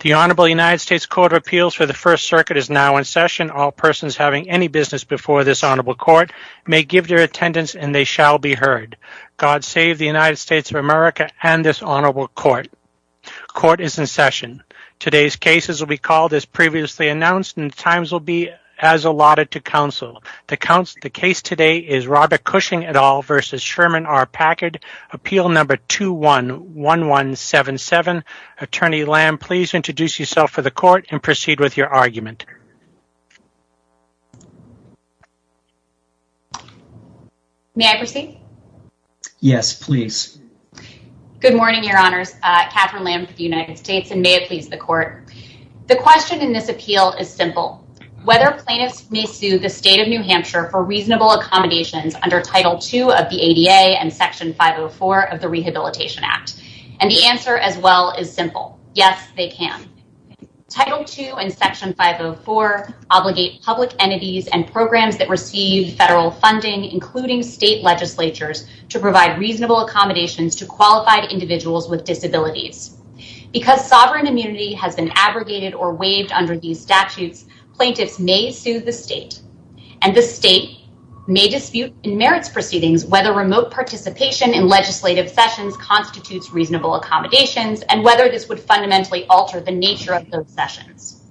The Honorable United States Court of Appeals for the First Circuit is now in session. All persons having any business before this Honorable Court may give their attendance and they shall be heard. God save the United States of America and this Honorable Court. Court is in session. Today's cases will be called as previously announced and times will be as allotted to counsel. The case today is Robert Cushing et al. v. Sherman R. Packard, Appeal No. 211177, Attorney Lam. Please introduce yourself for the Court and proceed with your argument. May I proceed? Yes, please. Good morning, Your Honors. Katherine Lam for the United States and may it please the Court. The question in this appeal is simple. Whether plaintiffs may sue the State of New Hampshire for reasonable accommodations under Title II of the ADA and Section 504 of the Rehabilitation Act. And the answer as well is simple. Yes, they can. Title II and Section 504 obligate public entities and programs that receive federal funding, including state legislatures, to provide reasonable accommodations to qualified individuals with disabilities. Because sovereign immunity has been abrogated or waived under these statutes, plaintiffs may sue the state. And the state may dispute in merits proceedings whether remote participation in legislative sessions constitutes reasonable accommodations and whether this would fundamentally alter the nature of those sessions.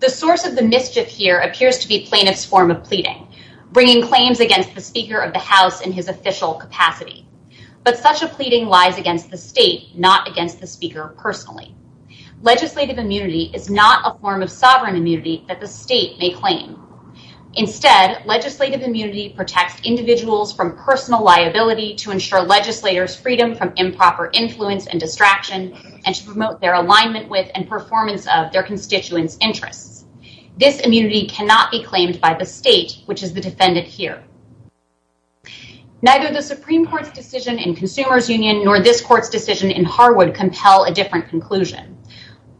The source of the mischief here appears to be plaintiff's form of pleading, bringing claims against the Speaker of the House in his official capacity. But such a pleading lies against the state, not against the Speaker personally. Legislative immunity is not a form of sovereign immunity that the state may claim. Instead, legislative immunity protects individuals from personal liability to ensure legislators freedom from improper influence and distraction and to promote their alignment with and performance of their constituents' interests. This immunity cannot be claimed by the state, which is the defendant here. Neither the Supreme Court's decision in Consumer's Union nor this Court's decision in Harwood compel a different conclusion.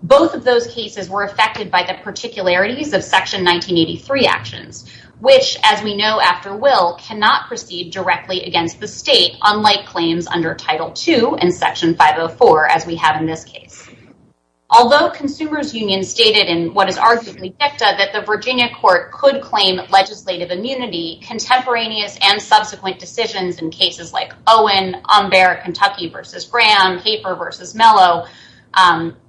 Both of those cases were affected by the particularities of Section 1983 actions, which, as we know after Will, cannot proceed directly against the state, unlike claims under Title II and Section 504, as we have in this case. Although Consumer's Union stated in what is arguably FICTA that the Virginia court could claim legislative immunity, contemporaneous and subsequent decisions in cases like Owen, Umber, Kentucky v. Graham, Hafer v. Mello,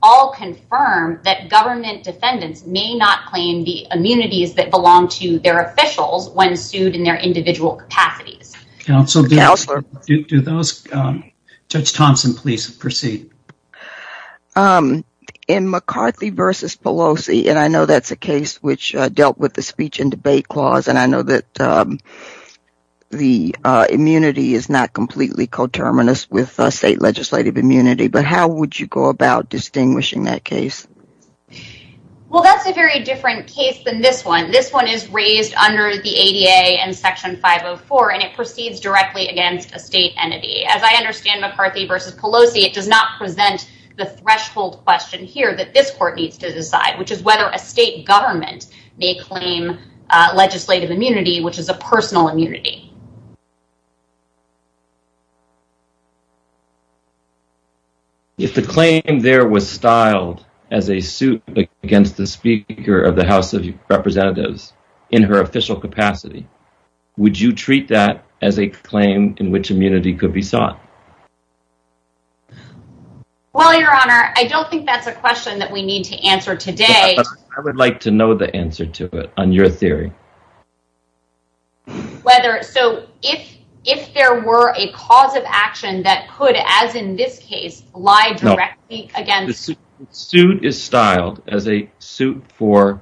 all confirm that government defendants may not claim the immunities that belong to their officials when sued in their individual capacities. Counsel, do those, Judge Thompson, please proceed. In McCarthy v. Pelosi, and I know that's a case which dealt with the speech and debate clause, and I know that the immunity is not completely coterminous with state legislative immunity, but how would you go about distinguishing that case? Well, that's a very different case than this one. This one is raised under the ADA and Section 504, and it proceeds directly against a state entity. As I understand McCarthy v. Pelosi, it does not present the threshold question here that this Court needs to decide, which is whether a state government may claim legislative immunity, which is a personal immunity. If the claim there was styled as a suit against the Speaker of the House of Representatives in her official capacity, would you treat that as a claim in which immunity could be sought? Well, Your Honor, I don't think that's a question that we need to answer today. I would like to know the answer to it on your theory. So, if there were a cause of action that could, as in this case, lie directly against… No. The suit is styled as a suit for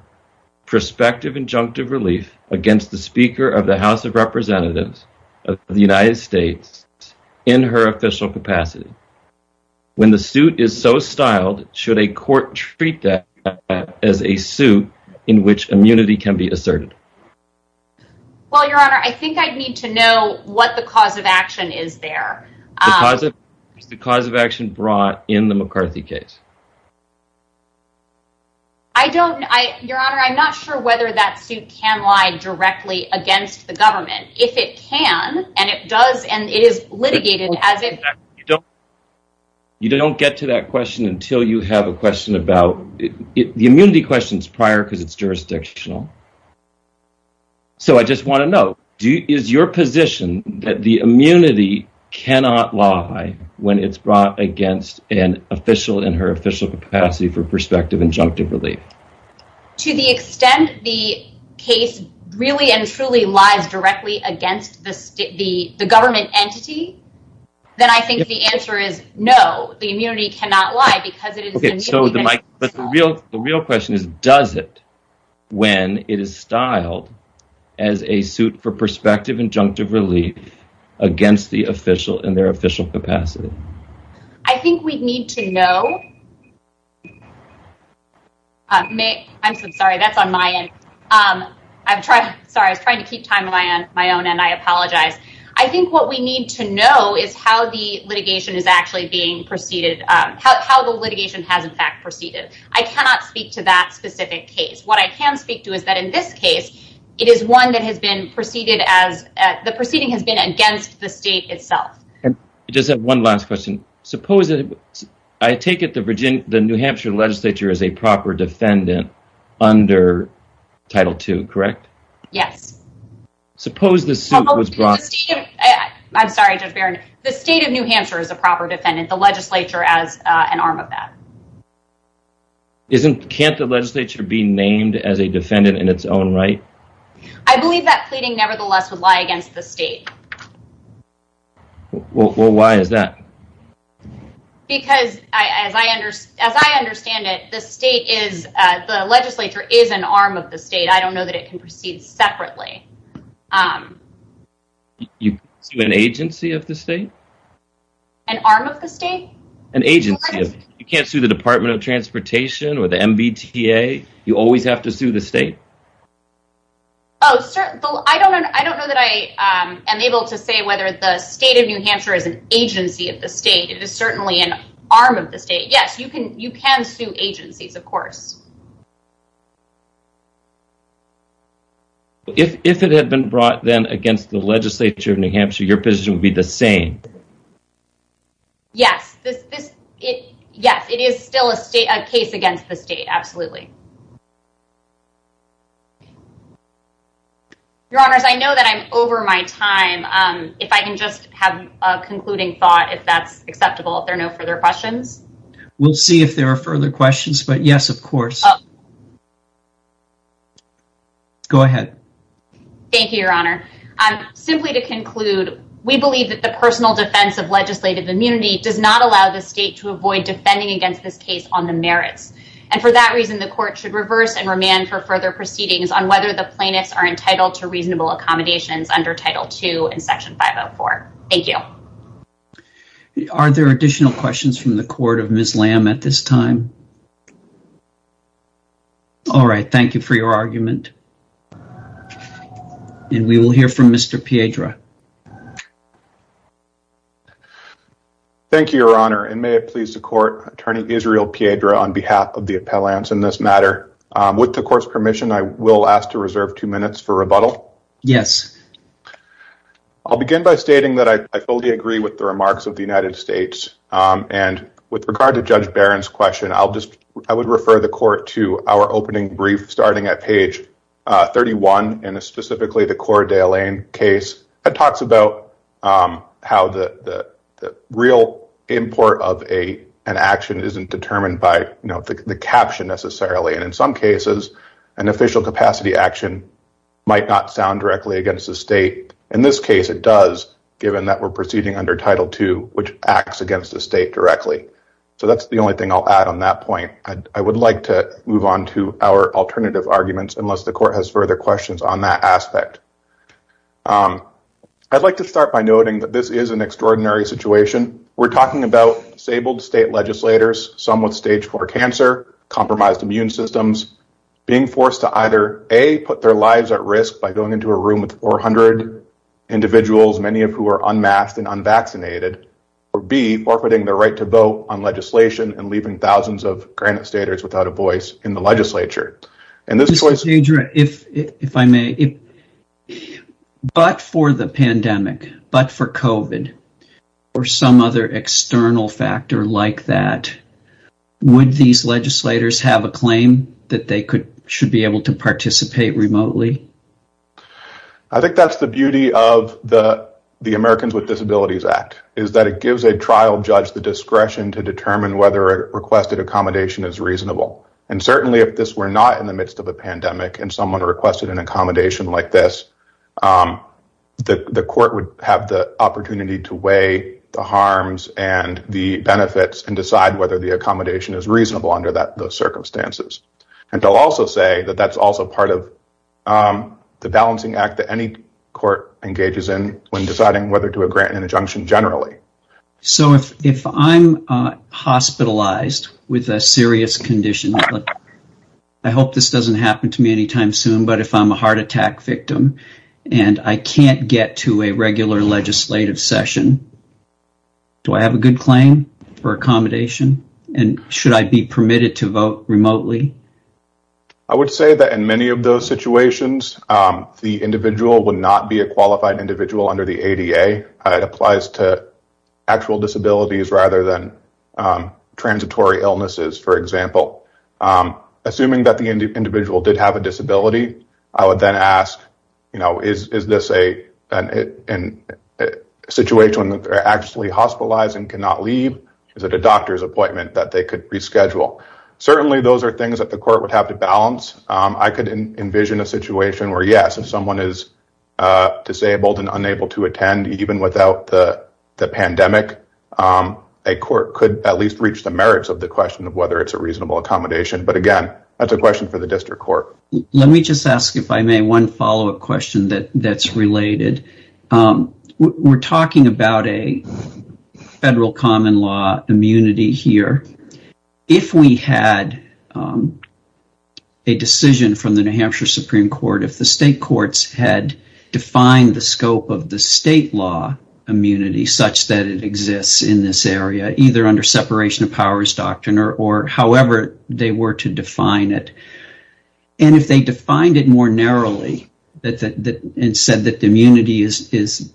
prospective injunctive relief against the Speaker of the House of Representatives of the United States in her official capacity. When the suit is so styled, should a court treat that as a suit in which immunity can be asserted? Well, Your Honor, I think I'd need to know what the cause of action is there. The cause of action brought in the McCarthy case. I don't… Your Honor, I'm not sure whether that suit can lie directly against the government. If it can, and it does, and is litigated as it… You don't get to that question until you have a question about… The immunity question is prior because it's jurisdictional. So, I just want to know, is your position that the immunity cannot lie when it's brought against an official in her official capacity for prospective injunctive relief? To the extent the case really and truly lies directly against the government entity, then I think the answer is no. The immunity cannot lie because it is… Okay, so the real question is, does it when it is styled as a suit for prospective injunctive relief against the official in their official capacity? I think we need to know… I'm sorry, that's on my end. I'm sorry, I'm trying to keep time on my own end. I apologize. I think what we need to know is how the litigation is actually being proceeded, how the litigation has, in fact, proceeded. I cannot speak to that specific case. What I can speak to is that in this case, it is one that has been proceeded as… The proceeding has been against the state itself. I just have one last question. Suppose… I take it the New Hampshire legislature is a proper defendant under Title II, correct? Yes. Suppose the suit was brought… I'm sorry, Judge Barron. The state of New Hampshire is a proper defendant. The legislature as an arm of that. Can't the legislature be named as a defendant in its own right? I believe that pleading nevertheless would lie against the state. Well, why is that? Because, as I understand it, the state is… The legislature is an arm of the state. I don't know that it can proceed separately. An agency of the state? An arm of the state? An agency. You can't sue the Department of Transportation or the MBTA. You always have to sue the state. Oh, sure. I don't know that I am able to say whether the state of New Hampshire is an agency of the state. It is certainly an arm of the state. Yes, you can sue agencies, of course. If it had been brought, then, against the legislature of New Hampshire, your position would be the same. Yes. Yes, it is still a case against the state. Absolutely. Your Honor, I know that I'm over my time. If I can just have a concluding thought, if that's acceptable, if there are no further questions. We'll see if there are further questions, but yes, of course. Go ahead. Thank you, Your Honor. Simply to conclude, we believe that the personal defense of legislative immunity does not allow the state to avoid defending against this case on the merits, and for that reason, the court should reverse and remand for further proceedings on whether the plaintiffs are entitled to reasonable accommodations under Title II in Section 504. Thank you. Are there additional questions from the court of Ms. Lamb at this time? All right. Thank you for your argument. And we will hear from Mr. Piedra. Thank you, Your Honor, and may it please the court, Attorney Israel Piedra, on behalf of the appellants in this matter, with the court's permission, I will ask to reserve two minutes for rebuttal. Yes. I'll begin by stating that I fully agree with the remarks of the United States, and with regard to Judge Barron's question, I would refer the court to our opening brief starting at page 31, and specifically the Cora DeLayne case. It talks about how the real import of an action isn't determined by, you know, the caption necessarily, and in some cases, an official capacity action might not sound directly against the state. In this case, it does, given that we're proceeding under Title II, which acts against the state directly. So that's the only thing I'll add on that point. I would like to move on to our alternative arguments, unless the court has further questions on that aspect. I'd like to start by noting that this is an extraordinary situation. We're talking about disabled state legislators, some with stage four cancer, compromised immune systems, being forced to either, A, put their lives at risk by going into a room with 400 individuals, many of who are unmasked and unvaccinated, or B, forfeiting their right to vote on legislation and leaving thousands of granite staters without a voice in the legislature. Mr. DeGioia, if I may, but for the pandemic, but for COVID, or some other external factor like that, would these legislators have a claim that they should be able to participate remotely? I think that's the beauty of the Americans with Disabilities Act, is that it gives a discretion to determine whether a requested accommodation is reasonable. And certainly if this were not in the midst of a pandemic and someone requested an accommodation like this, the court would have the opportunity to weigh the harms and the benefits and decide whether the accommodation is reasonable under those circumstances. And to also say that that's also part of the balancing act that any court engages in when deciding whether to grant an injunction generally. So if I'm hospitalized with a serious condition, I hope this doesn't happen to me anytime soon, but if I'm a heart attack victim and I can't get to a regular legislative session, do I have a good claim for accommodation? And should I be permitted to vote remotely? I would say that in many of those situations, the individual would not be a qualified individual under the ADA. It applies to actual disabilities rather than transitory illnesses, for example. Assuming that the individual did have a disability, I would then ask, is this a situation where they're actually hospitalized and cannot leave? Is it a doctor's appointment that they could reschedule? I could envision a situation where, yes, if someone is disabled and unable to attend even without the pandemic, a court could at least reach the merits of the question of whether it's a reasonable accommodation. But again, that's a question for the district court. Let me just ask, if I may, one follow-up question that's related. We're talking about a federal common law immunity here. If we had a decision from the New Hampshire Supreme Court, if the state courts had defined the scope of the state law immunity such that it exists in this area, either under separation of powers doctrine or however they were to define it, and if they defined it more narrowly and said that the immunity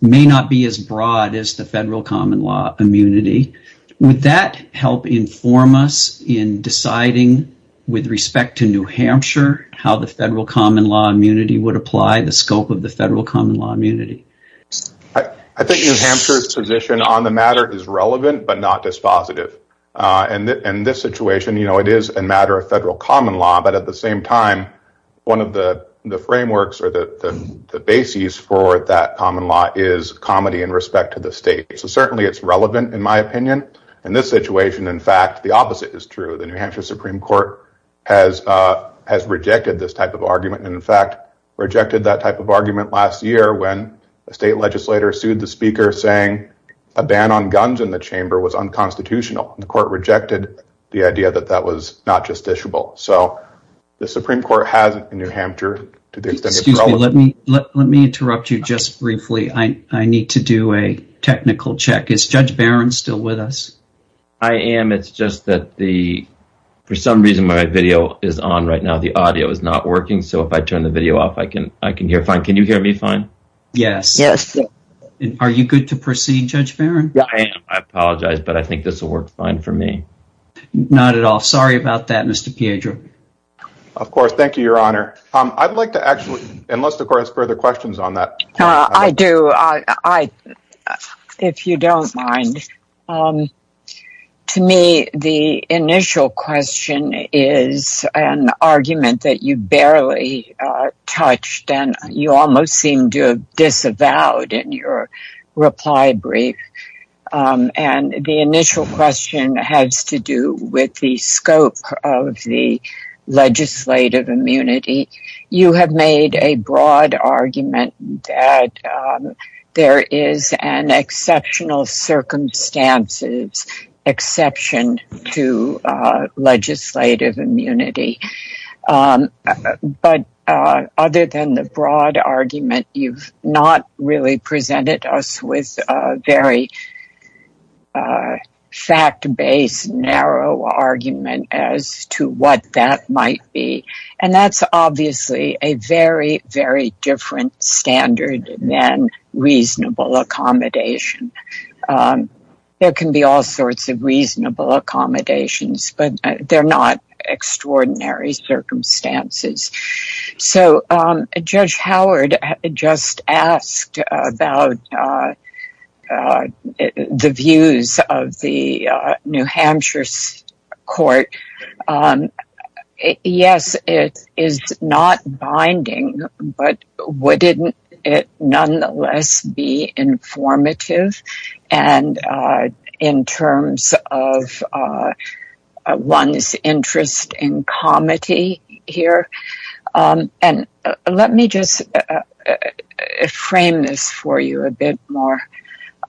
may not be as broad as the federal common law immunity, would that help inform us in deciding, with respect to New Hampshire, how the federal common law immunity would apply, the scope of the federal common law immunity? I think New Hampshire's position on the matter is relevant but not dispositive. In this situation, you know, it is a matter of federal common law, but at the same time, one of the frameworks or the bases for that common law is comity in respect to the state. So certainly it's relevant, in my opinion. In this situation, in fact, the opposite is true. The New Hampshire Supreme Court has rejected this type of argument, and in fact, rejected that type of argument last year when a state legislator sued the speaker saying a ban on guns in the chamber was unconstitutional. The court rejected the idea that that was not justiciable. So the Supreme Court has in New Hampshire to do something about it. Let me interrupt you just briefly. I need to do a technical check. Is Judge Barron still with us? I am. It's just that for some reason my video is on right now. The audio is not working. So if I turn the video off, I can hear fine. Can you hear me fine? Yes. Are you good to proceed, Judge Barron? I apologize, but I think this will work fine for me. Not at all. Sorry about that, Mr. Piedro. Of course. Thank you, Your Honor. I'd like to actually, unless the court has further questions on that. I do. If you don't mind. To me, the initial question is an argument that you barely touched. And you almost seem to have disavowed in your reply brief. And the initial question has to do with the scope of the legislative immunity. You have made a broad argument that there is an exceptional circumstances exception to legislative immunity. But other than the broad argument, you've not really presented us with a very fact-based, narrow argument as to what that might be. And that's obviously a very, very different standard than reasonable accommodation. There can be all sorts of reasonable accommodations, but they're not extraordinary circumstances. So Judge Howard just asked about the views of the New Hampshire court. Yes, it is not binding, but wouldn't it nonetheless be informative in terms of one's interest in comity here? And let me just frame this for you a bit more.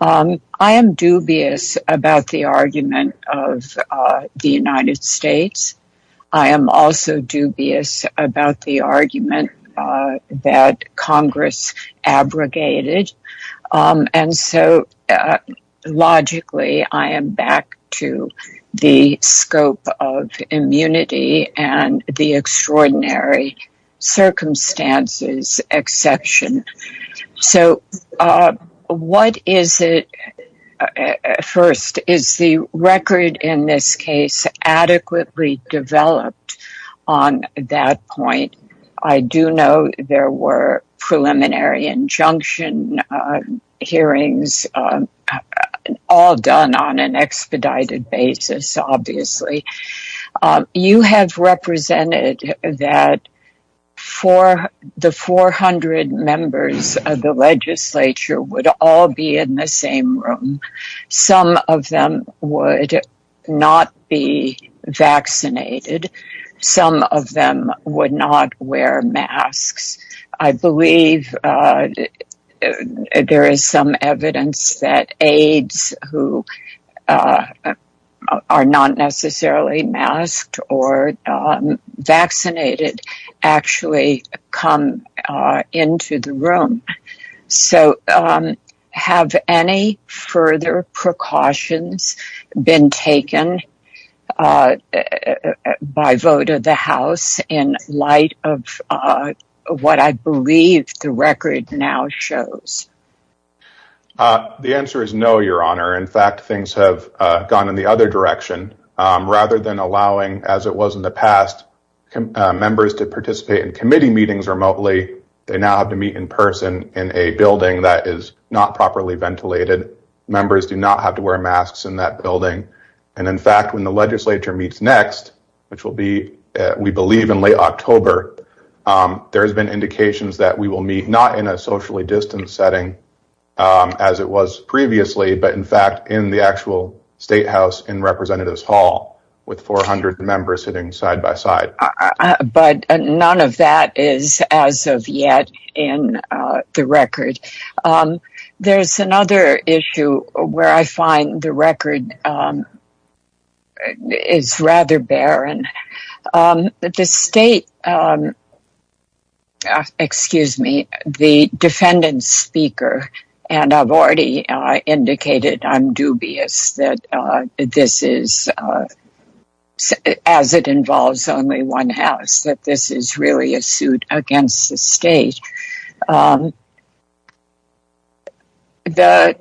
I am dubious about the argument of the United States. I am also dubious about the argument that Congress abrogated. And so logically, I am back to the scope of immunity and the extraordinary circumstances exception. So what is it? First, is the record in this case adequately developed on that point? I do know there were preliminary injunction hearings, all done on an expedited basis, obviously. You have represented that the 400 members of the legislature would all be in the same room. Some of them would not be vaccinated. Some of them would not wear masks. I believe there is some evidence that aides who are not necessarily masked or vaccinated actually come into the room. So have any further precautions been taken by vote of the House in light of what I believe the record now shows? The answer is no, Your Honor. In fact, things have gone in the other direction. Rather than allowing, as it was in the past, members to participate in committee meetings remotely, they now have to meet in person in a building that is not properly ventilated. Members do not have to wear masks in that building. In fact, when the legislature meets next, which will be, we believe, in late October, there has been indications that we will meet not in a socially distanced setting, as it was previously, but in fact in the actual State House in Representatives Hall with 400 members sitting side by side. But none of that is, as of yet, in the record. There's another issue where I find the record is rather barren. The State, excuse me, the defendant speaker, and I've already indicated I'm dubious that this is, as it involves only one House, that this is really a suit against the State. The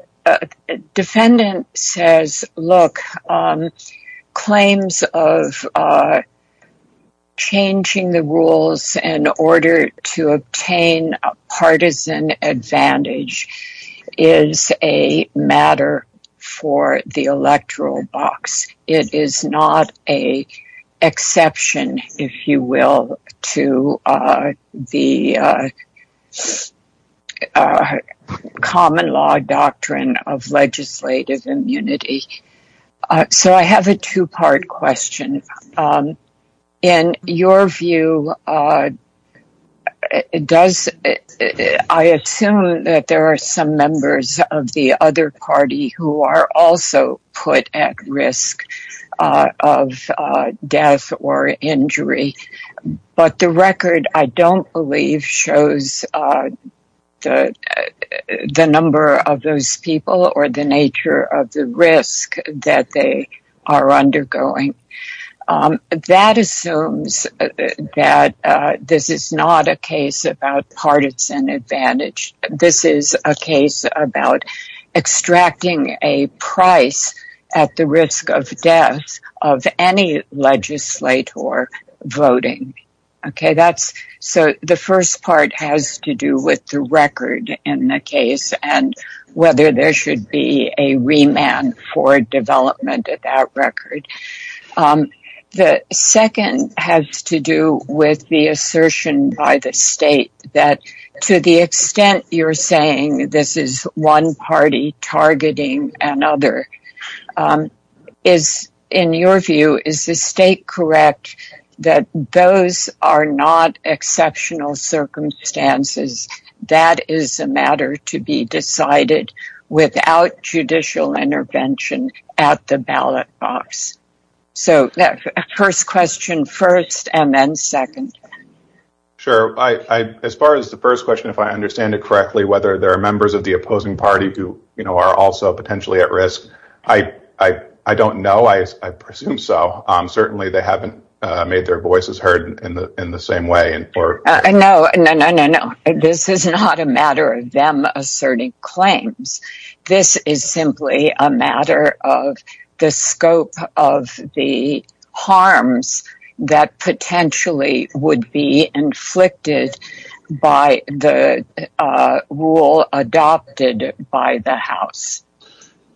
defendant says, look, claims of changing the rules in order to obtain a partisan advantage is a matter for the electoral box. It is not an exception, if you will, to the common law doctrine of legislative immunity. So I have a two-part question. In your view, does, I assume that there are some members of the other party who are also put at risk of death or injury, but the record I don't believe shows the number of those people or the nature of the risk that they are undergoing. That assumes that this is not a case about partisan advantage. This is a case about extracting a price at the risk of death of any legislator voting. So the first part has to do with the record in the case and whether there should be a remand for development of that record. The second has to do with the assertion by the State that to the extent you're saying this is one party targeting another, in your view, is the State correct that those are not exceptional circumstances? That is a matter to be decided without judicial intervention at the ballot box. So first question first and then second. Sure. As far as the first question, if I understand it correctly, whether there are members of the opposing party who are also potentially at risk, I don't know. I assume so. Certainly they haven't made their voices heard in the same way. No, no, no, no, no. This is not a matter of them asserting claims. This is simply a matter of the scope of the harms that potentially would be inflicted by the rule adopted by the House.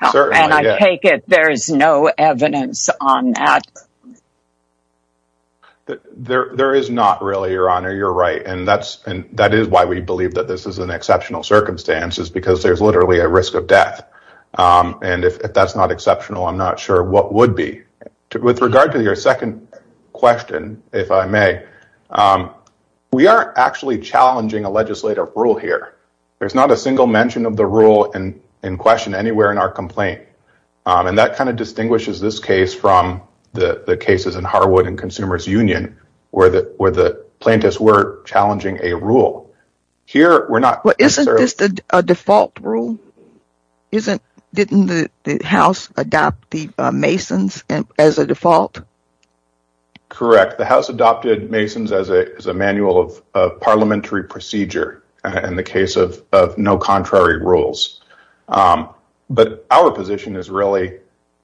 And I take it there is no evidence on that. There is not really, Your Honor. You're right. And that's and that is why we believe that this is an exceptional circumstance is because there's literally a risk of death. And if that's not exceptional, I'm not sure what would be. With regard to your second question, if I may, we are actually challenging a legislative rule here. There's not a single mention of the rule in question anywhere in our complaint. And that kind of distinguishes this case from the cases in Harwood and Consumers Union where the plaintiffs were challenging a rule. Isn't this a default rule? Didn't the House adopt the Mason's as a default? Correct. The House adopted Mason's as a manual of parliamentary procedure in the case of no contrary rules. But our position is really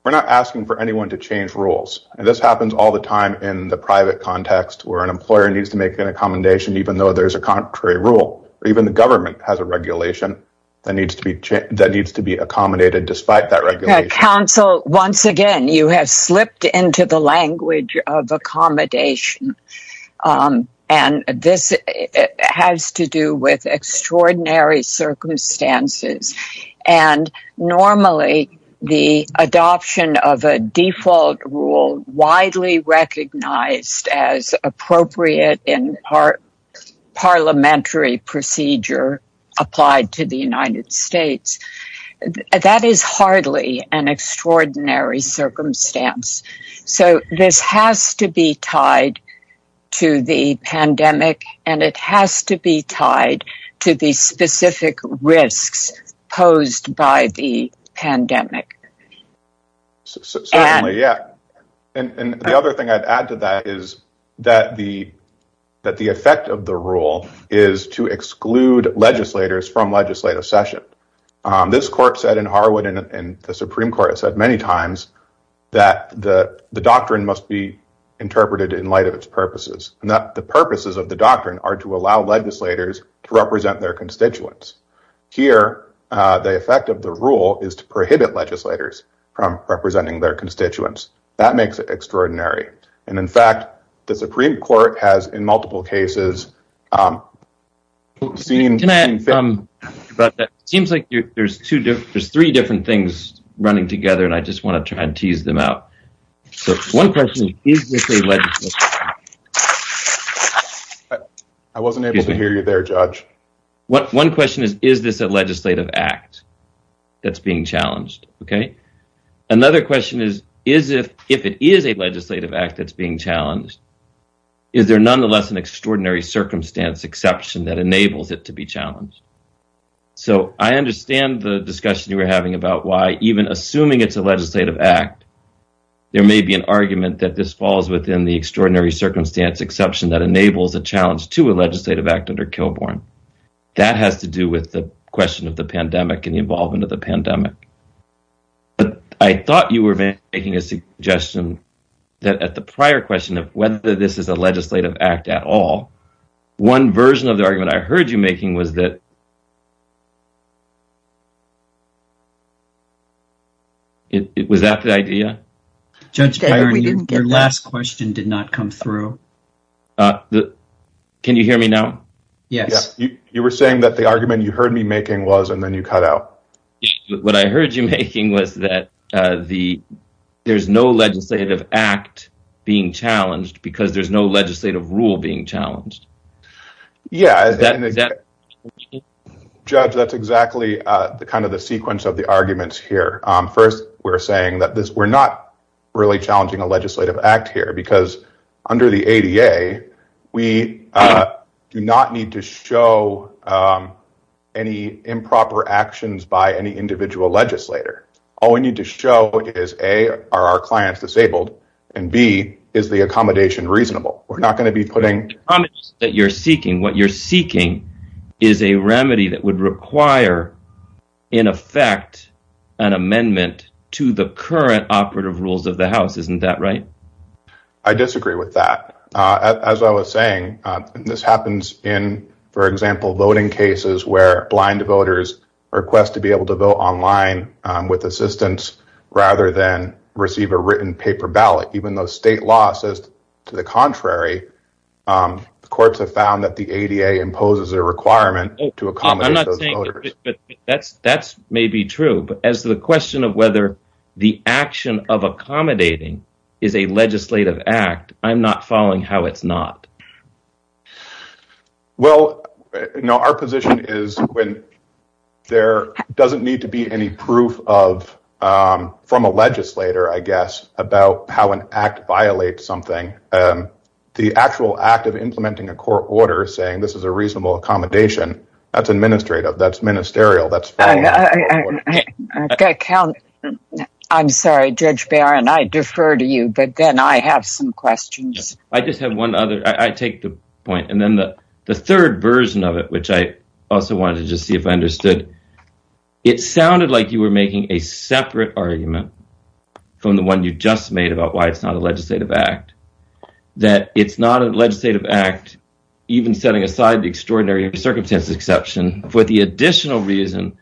we're not asking for anyone to change rules. And this happens all the time in the private context where an employer needs to make an accommodation, even though there is a contrary rule. Even the government has a regulation that needs to be that needs to be accommodated. Counsel, once again, you have slipped into the language of accommodation and this has to do with extraordinary circumstances. And normally the adoption of a default rule widely recognized as appropriate in part parliamentary procedure applied to the United States. That is hardly an extraordinary circumstance. So this has to be tied to the pandemic and it has to be tied to the specific risks posed by the pandemic. Certainly, yeah. And the other thing I'd add to that is that the that the effect of the rule is to exclude legislators from legislative session. This court said in Harwood and the Supreme Court has said many times that the doctrine must be interpreted in light of its purposes and that the purposes of the doctrine are to allow legislators to represent their constituents. Here, the effect of the rule is to prohibit legislators from representing their constituents. That makes it extraordinary. And in fact, the Supreme Court has in multiple cases. But it seems like there's two different there's three different things running together. And I just want to try and tease them out. One person. I wasn't able to hear you there, Judge. One question is, is this a legislative act that's being challenged? OK. Another question is, is it if it is a legislative act that's being challenged? Is there nonetheless an extraordinary circumstance exception that enables it to be challenged? So I understand the discussion you were having about why even assuming it's a legislative act, there may be an argument that this falls within the extraordinary circumstance exception that enables a challenge to a legislative act under Kilbourn. That has to do with the question of the pandemic and the involvement of the pandemic. But I thought you were making a suggestion that at the prior question of whether this is a legislative act at all. One version of the argument I heard you making was that. Was that the idea? Judge, your last question did not come through. Can you hear me now? Yes. You were saying that the argument you heard me making was and then you cut out. What I heard you making was that the there's no legislative act being challenged because there's no legislative rule being challenged. Yeah. Judge, that's exactly the kind of the sequence of the arguments here. First, we're saying that we're not really challenging a legislative act here because under the ADA, we do not need to show any improper actions by any individual legislator. All we need to show is A, are our clients disabled? And B, is the accommodation reasonable? What you're seeking is a remedy that would require, in effect, an amendment to the current operative rules of the House. Isn't that right? I disagree with that. As I was saying, this happens in, for example, voting cases where blind voters request to be able to vote online with assistance rather than receive a written paper ballot. Even though state law says to the contrary, courts have found that the ADA imposes a requirement to accommodate those voters. That may be true. But as to the question of whether the action of accommodating is a legislative act, I'm not following how it's not. Well, no, our position is when there doesn't need to be any proof from a legislator, I guess, about how an act violates something. The actual act of implementing a court order saying this is a reasonable accommodation, that's administrative, that's ministerial. I'm sorry, Judge Barron, I defer to you, but then I have some questions. I just have one other. I take the point. And then the third version of it, which I also wanted to see if I understood, it sounded like you were making a separate argument from the one you just made about why it's not a legislative act. That it's not a legislative act, even setting aside the extraordinary circumstances exception, for the additional reason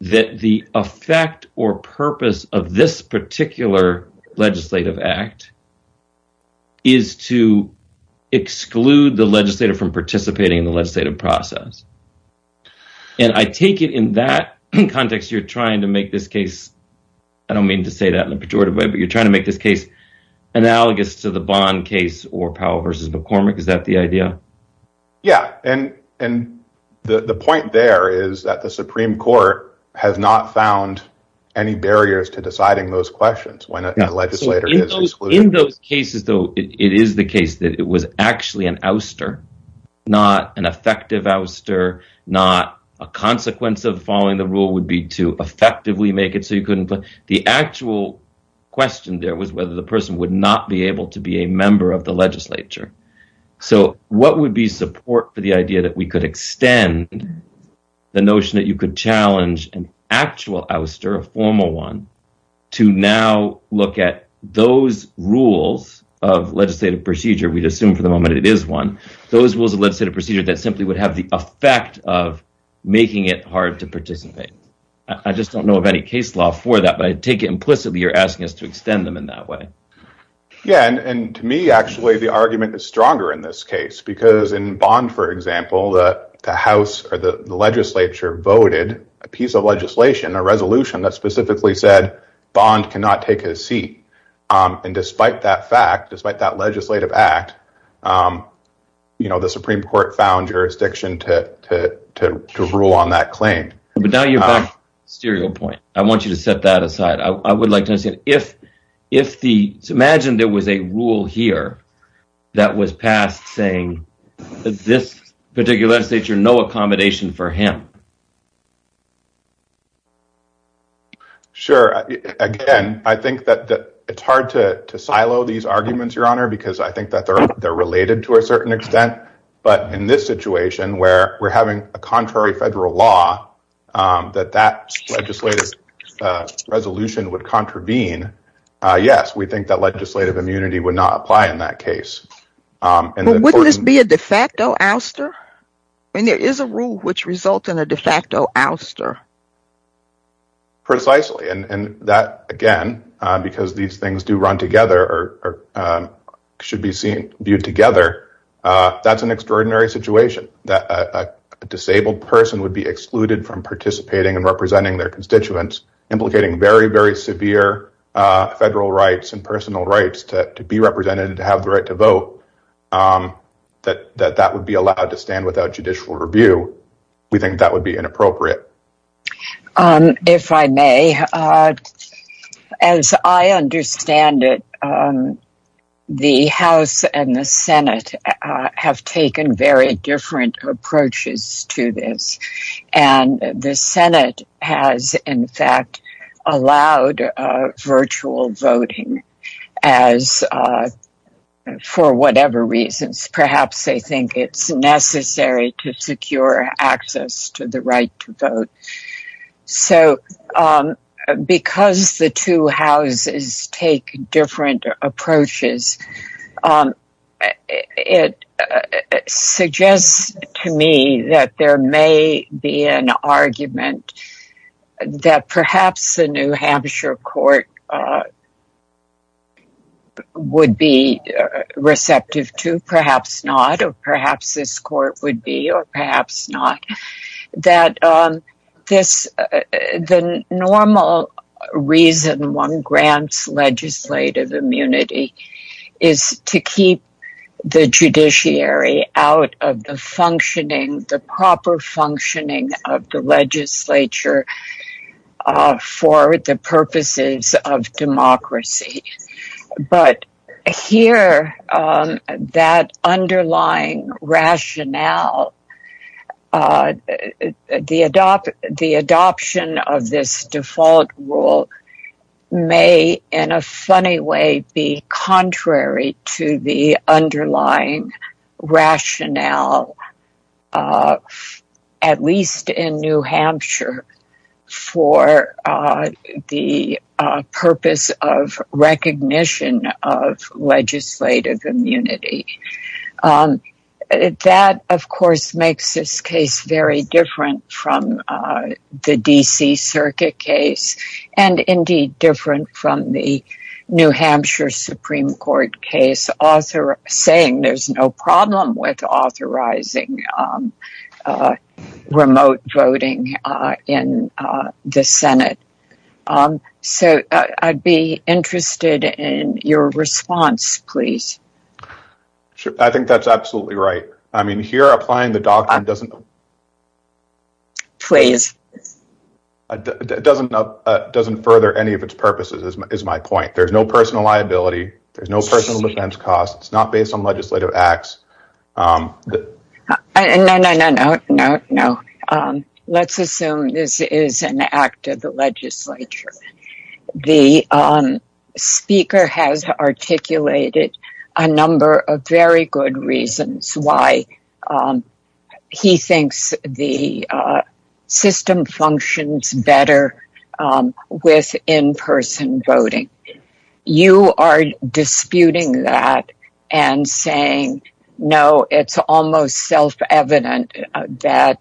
that the effect or purpose of this particular legislative act is to exclude the legislator from participating in the legislative process. And I take it in that context, you're trying to make this case, I don't mean to say that in a pejorative way, but you're trying to make this case analogous to the Bond case or Powell v. McCormick. Is that the idea? Yeah. And the point there is that the Supreme Court has not found any barriers to deciding those questions when a legislator is excluded. In those cases, though, it is the case that it was actually an ouster, not an effective ouster, not a consequence of following the rule would be to effectively make it so you couldn't. But the actual question there was whether the person would not be able to be a member of the legislature. So what would be support for the idea that we could extend the notion that you could challenge an actual ouster, a formal one, to now look at those rules of legislative procedure, we'd assume for the moment it is one, those rules of legislative procedure that simply would have the effect of making it hard to participate. I just don't know of any case law for that, but I take it implicitly you're asking us to extend them in that way. Yeah. And to me, actually, the argument is stronger in this case, because in bond, for example, the House or the legislature voted a piece of legislation, a resolution that specifically said bond cannot take a seat. And despite that fact, despite that legislative act, you know, the Supreme Court found jurisdiction to rule on that claim. But now you're back to the serial point. I want you to set that aside. I would like to say, imagine there was a rule here that was passed saying that this particular legislature, no accommodation for him. Sure. Again, I think that it's hard to silo these arguments, Your Honor, because I think that they're related to a certain extent. But in this situation where we're having a contrary federal law, that that legislative resolution would contravene. Yes, we think that legislative immunity would not apply in that case. Wouldn't this be a de facto ouster? And there is a rule which results in a de facto ouster. Precisely. And that, again, because these things do run together or should be viewed together. That's an extraordinary situation that a disabled person would be excluded from participating and representing their constituents, implicating very, very severe federal rights and personal rights to be represented and to have the right to vote. That that would be allowed to stand without judicial review. We think that would be inappropriate. If I may, as I understand it, the House and the Senate have taken very different approaches to this. And the Senate has, in fact, allowed virtual voting for whatever reasons. Perhaps they think it's necessary to secure access to the right to vote. So because the two houses take different approaches, it suggests to me that there may be an argument that perhaps the New Hampshire court would be receptive to. Perhaps not. Or perhaps this court would be. Or perhaps not. That the normal reason one grants legislative immunity is to keep the judiciary out of the proper functioning of the legislature for the purposes of democracy. But here, that underlying rationale, the adoption of this default rule may, in a funny way, be contrary to the underlying rationale, at least in New Hampshire, for the purpose of recognition of legislative immunity. That, of course, makes this case very different from the D.C. circuit case and, indeed, different from the New Hampshire Supreme Court case, saying there's no problem with authorizing remote voting in the Senate. So I'd be interested in your response, please. I think that's absolutely right. I mean, here, applying the doctrine doesn't further any of its purposes, is my point. There's no personal liability. There's no personal defense costs. It's not based on legislative acts. No, no, no, no. Let's assume this is an act of the legislature. The speaker has articulated a number of very good reasons why he thinks the system functions better with in-person voting. You are disputing that and saying, no, it's almost self-evident that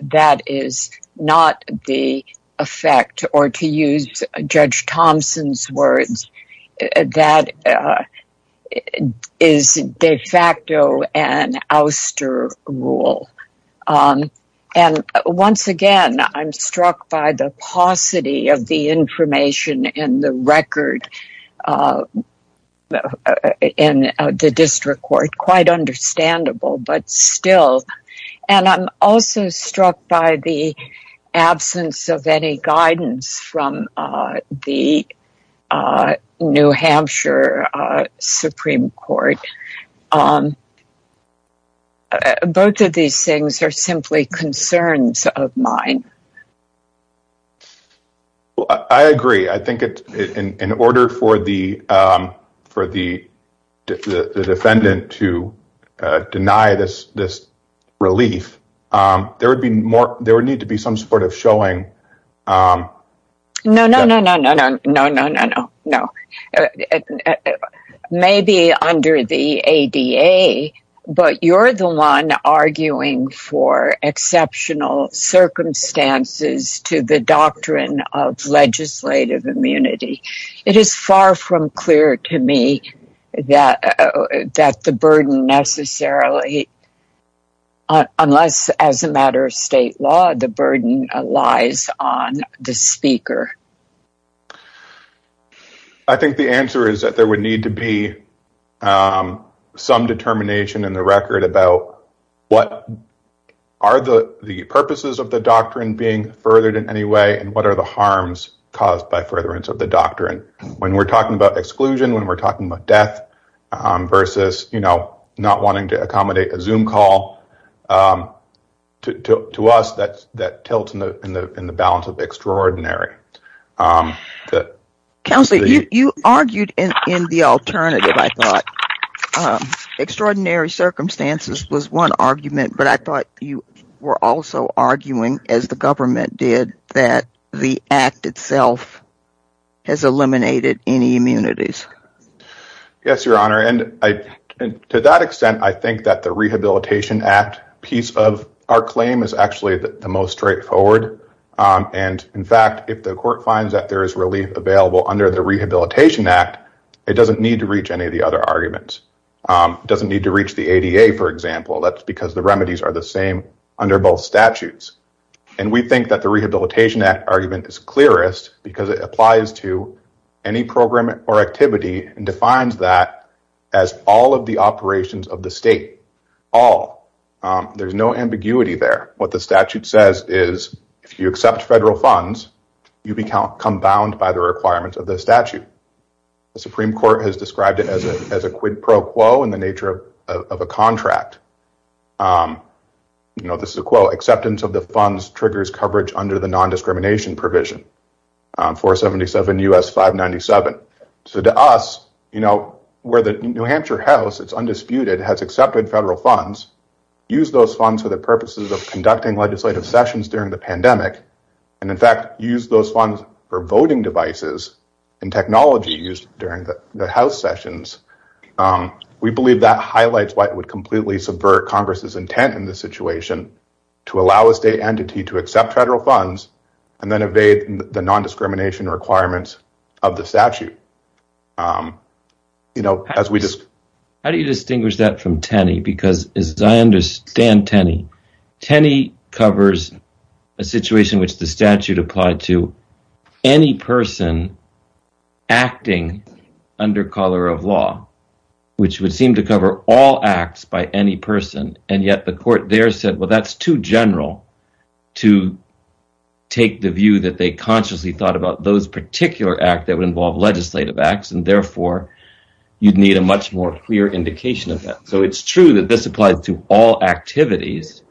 that is not the effect, or to use Judge Thompson's words, that is de facto an ouster rule. And, once again, I'm struck by the paucity of the information in the record in the district court. Quite understandable, but still. And I'm also struck by the absence of any guidance from the New Hampshire Supreme Court. Both of these things are simply concerns of mine. Well, I agree. I think in order for the defendant to deny this relief, there would need to be some sort of showing. No, no, no, no, no, no, no, no. Maybe under the ADA, but you're the one arguing for exceptional circumstances to the doctrine of legislative immunity. It is far from clear to me that the burden necessarily, unless as a matter of state law, the burden lies on the speaker. I think the answer is that there would need to be some determination in the record about what are the purposes of the doctrine being furthered in any way and what are the harms caused by furtherance of the doctrine. When we're talking about exclusion, when we're talking about death versus, you know, not wanting to accommodate a Zoom call, to us, that tilts in the balance of extraordinary. Counsel, you argued in the alternative, I thought extraordinary circumstances was one argument, but I thought you were also arguing as the government did that the act itself has eliminated any immunities. Yes, Your Honor. And to that extent, I think that the Rehabilitation Act piece of our claim is actually the most straightforward. And in fact, if the court finds that there is relief available under the Rehabilitation Act, it doesn't need to reach any of the other arguments. It doesn't need to reach the ADA, for example. That's because the remedies are the same under both statutes. And we think that the Rehabilitation Act argument is clearest because it applies to any program or activity and defines that as all of the operations of the state. All. There's no ambiguity there. What the statute says is if you accept federal funds, you become bound by the requirements of the statute. The Supreme Court has described it as a quid pro quo in the nature of a contract. You know, this is a quote, acceptance of the funds triggers coverage under the non-discrimination provision. 477 U.S. 597. So to us, you know, where the New Hampshire House, it's undisputed, has accepted federal funds, use those funds for the purposes of conducting legislative sessions during the pandemic. And in fact, use those funds for voting devices and technologies during the House sessions. We believe that highlights what would completely subvert Congress's intent in this situation to allow a state entity to accept federal funds and then evade the non-discrimination requirements of the statute. You know, as we just how do you distinguish that from Tenney? Because as I understand, Tenney, Tenney covers a situation which the statute applied to any person acting under color of law, which would seem to cover all acts by any person. And yet the court there said, well, that's too general to take the view that they consciously thought about those particular acts that would involve legislative acts. And therefore, you'd need a much more clear indication of that. So it's true that this applies to all activities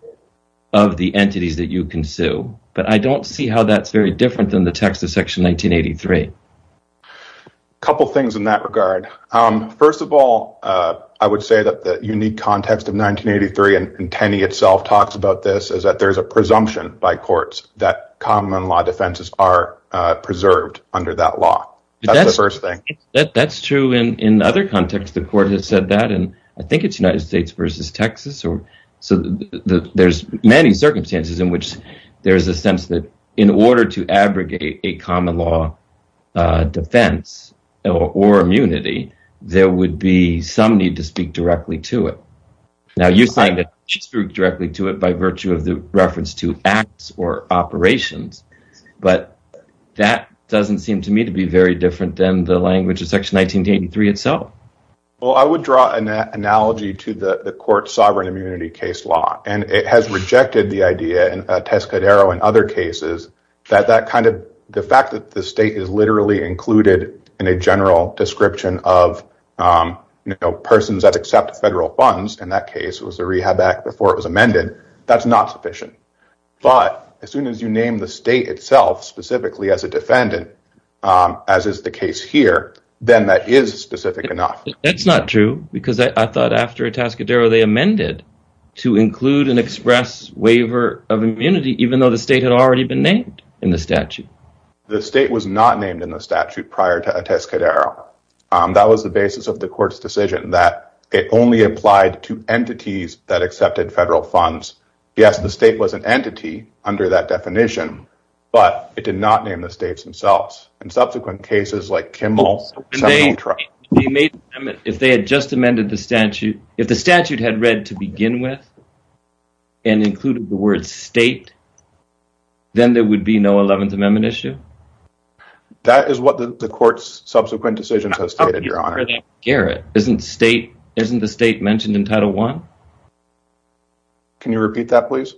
of the entities that you can sue. But I don't see how that's very different than the text of Section 1983. A couple of things in that regard. First of all, I would say that the unique context of 1983 and Tenney itself talks about this is that there is a presumption by courts that common law defenses are preserved under that law. That's true. And in other contexts, the court has said that. And I think it's United States versus Texas. So there's many circumstances in which there is a sense that in order to abrogate a common law defense or immunity, there would be some need to speak directly to it. Now, you find that you speak directly to it by virtue of the reference to acts or operations, but that doesn't seem to me to be very different than the language of Section 1983 itself. Well, I would draw an analogy to the court sovereign immunity case law, and it has rejected the idea in Tescadero and other cases that the fact that the state is literally included in a general description of persons that accept federal funds, in that case, was the Rehab Act before it was amended. That's not sufficient. But as soon as you name the state itself specifically as a defendant, as is the case here, then that is specific enough. That's not true, because I thought after Tescadero, they amended to include an express waiver of immunity, even though the state had already been named in the statute. The state was not named in the statute prior to Tescadero. That was the basis of the court's decision, that it only applied to entities that accepted federal funds. Yes, the state was an entity under that definition, but it did not name the states themselves. In subsequent cases like Kimball— If they had just amended the statute, if the statute had read to begin with and included the word state, then there would be no 11th Amendment issue? That is what the court's subsequent decision has stated, Your Honor. Isn't the state mentioned in Title I? Can you repeat that, please?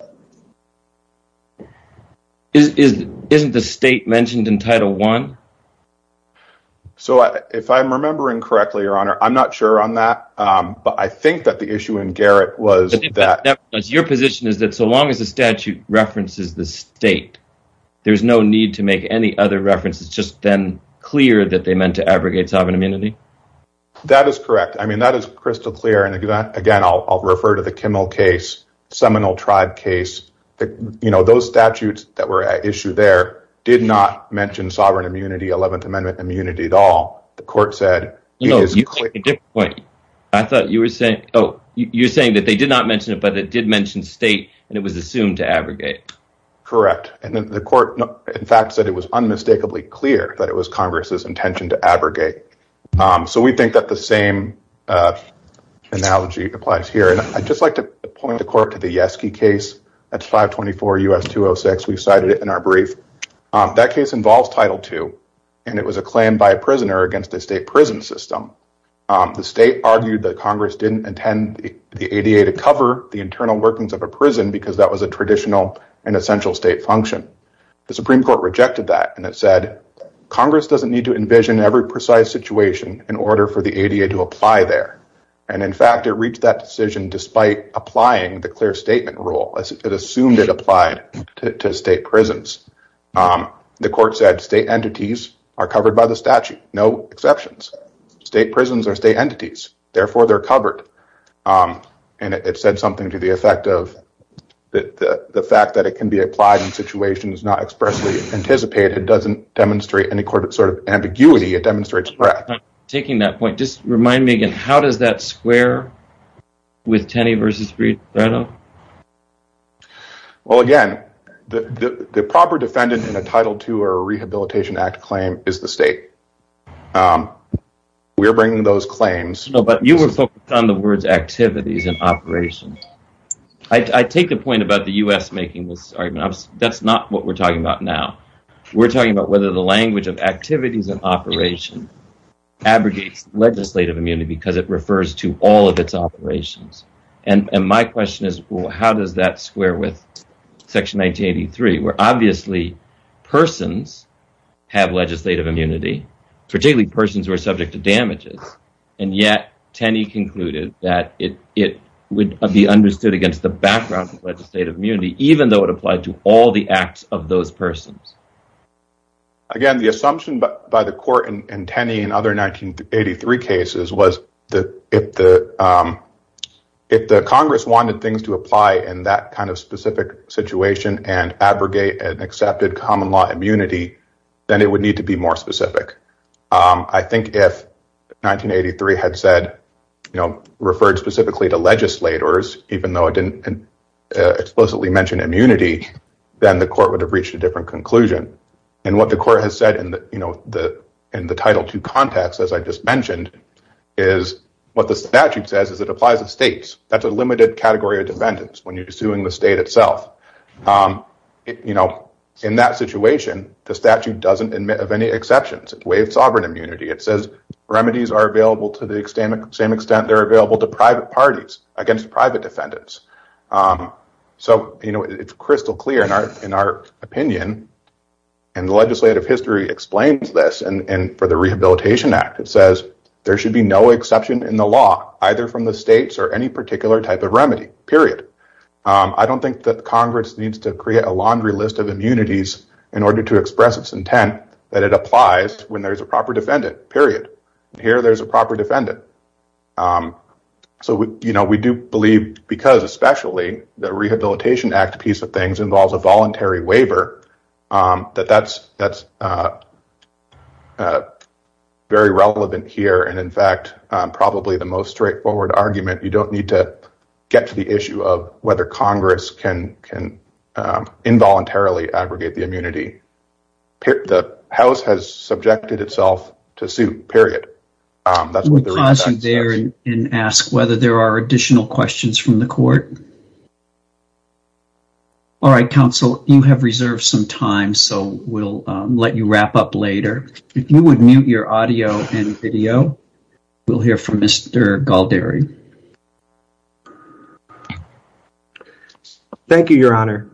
Isn't the state mentioned in Title I? If I'm remembering correctly, Your Honor, I'm not sure on that, but I think that the issue in Garrett was— Your position is that so long as the statute references the state, there's no need to make any other references, just then clear that they meant to abrogate sovereign immunity? That is correct. That is crystal clear. Again, I'll refer to the Kimball case, Seminole Tribe case. Those statutes that were at issue there did not mention sovereign immunity, 11th Amendment immunity at all. The court said— No, you made a different point. I thought you were saying—oh, you're saying that they did not mention it, but it did mention state, and it was assumed to abrogate. Correct. And the court, in fact, said it was unmistakably clear that it was Congress's intention to abrogate. So we think that the same analogy applies here, and I'd just like to point the court to the Yeske case at 524 U.S. 206. We cited it in our brief. That case involves Title II, and it was a claim by a prisoner against the state prison system. The state argued that Congress didn't intend the ADA to cover the internal workings of a prison because that was a traditional and essential state function. The Supreme Court rejected that, and it said Congress doesn't need to envision every precise situation in order for the ADA to apply there. And, in fact, it reached that decision despite applying the clear statement rule. It assumed it applied to state prisons. The court said state entities are covered by the statute. No exceptions. State prisons are state entities. Therefore, they're covered. And it said something to the effect of the fact that it can be applied in situations not expressly anticipated doesn't demonstrate any sort of ambiguity. It demonstrates threat. Taking that point, just remind me again, how does that square with Tenney v. Frito? Well, again, the proper defendant in a Title II or a Rehabilitation Act claim is the state. We're bringing those claims. No, but you were focused on the words activities and operations. I take the point about the U.S. making this argument. That's not what we're talking about now. We're talking about whether the language of activities and operations abrogates legislative immunity because it refers to all of its operations. And my question is, well, how does that square with Section 1983 where obviously persons have legislative immunity, particularly persons who are subject to damages, and yet Tenney concluded that it would be understood against the background of legislative immunity even though it applied to all the acts of those persons? Again, the assumption by the court in Tenney and other 1983 cases was that if the Congress wanted things to apply in that kind of specific situation and abrogate an accepted common law immunity, then it would need to be more specific. I think if 1983 had referred specifically to legislators, even though it didn't explicitly mention immunity, then the court would have reached a different conclusion. And what the court has said in the Title II context, as I just mentioned, is what the statute says is it applies to states. That's a limited category of defendants when you're suing the state itself. In that situation, the statute doesn't admit of any exceptions. It's a way of sovereign immunity. It says remedies are available to the same extent they're available to private parties against private defendants. So it's crystal clear in our opinion, and the legislative history explains this, and for the Rehabilitation Act it says there should be no exception in the law, either from the states or any particular type of remedy, period. I don't think that Congress needs to create a laundry list of immunities in order to express its intent that it applies when there's a proper defendant, period. Here there's a proper defendant. So we do believe, because especially the Rehabilitation Act piece of things involves a voluntary waiver, that that's very relevant here. And in fact, probably the most straightforward argument, you don't need to get to the issue of whether Congress can involuntarily aggregate the immunity. The House has subjected itself to suit, period. We'll pause you there and ask whether there are additional questions from the court. All right, counsel, you have reserved some time, so we'll let you wrap up later. If you would mute your audio and video, we'll hear from Mr. Galdary. Thank you, Your Honor.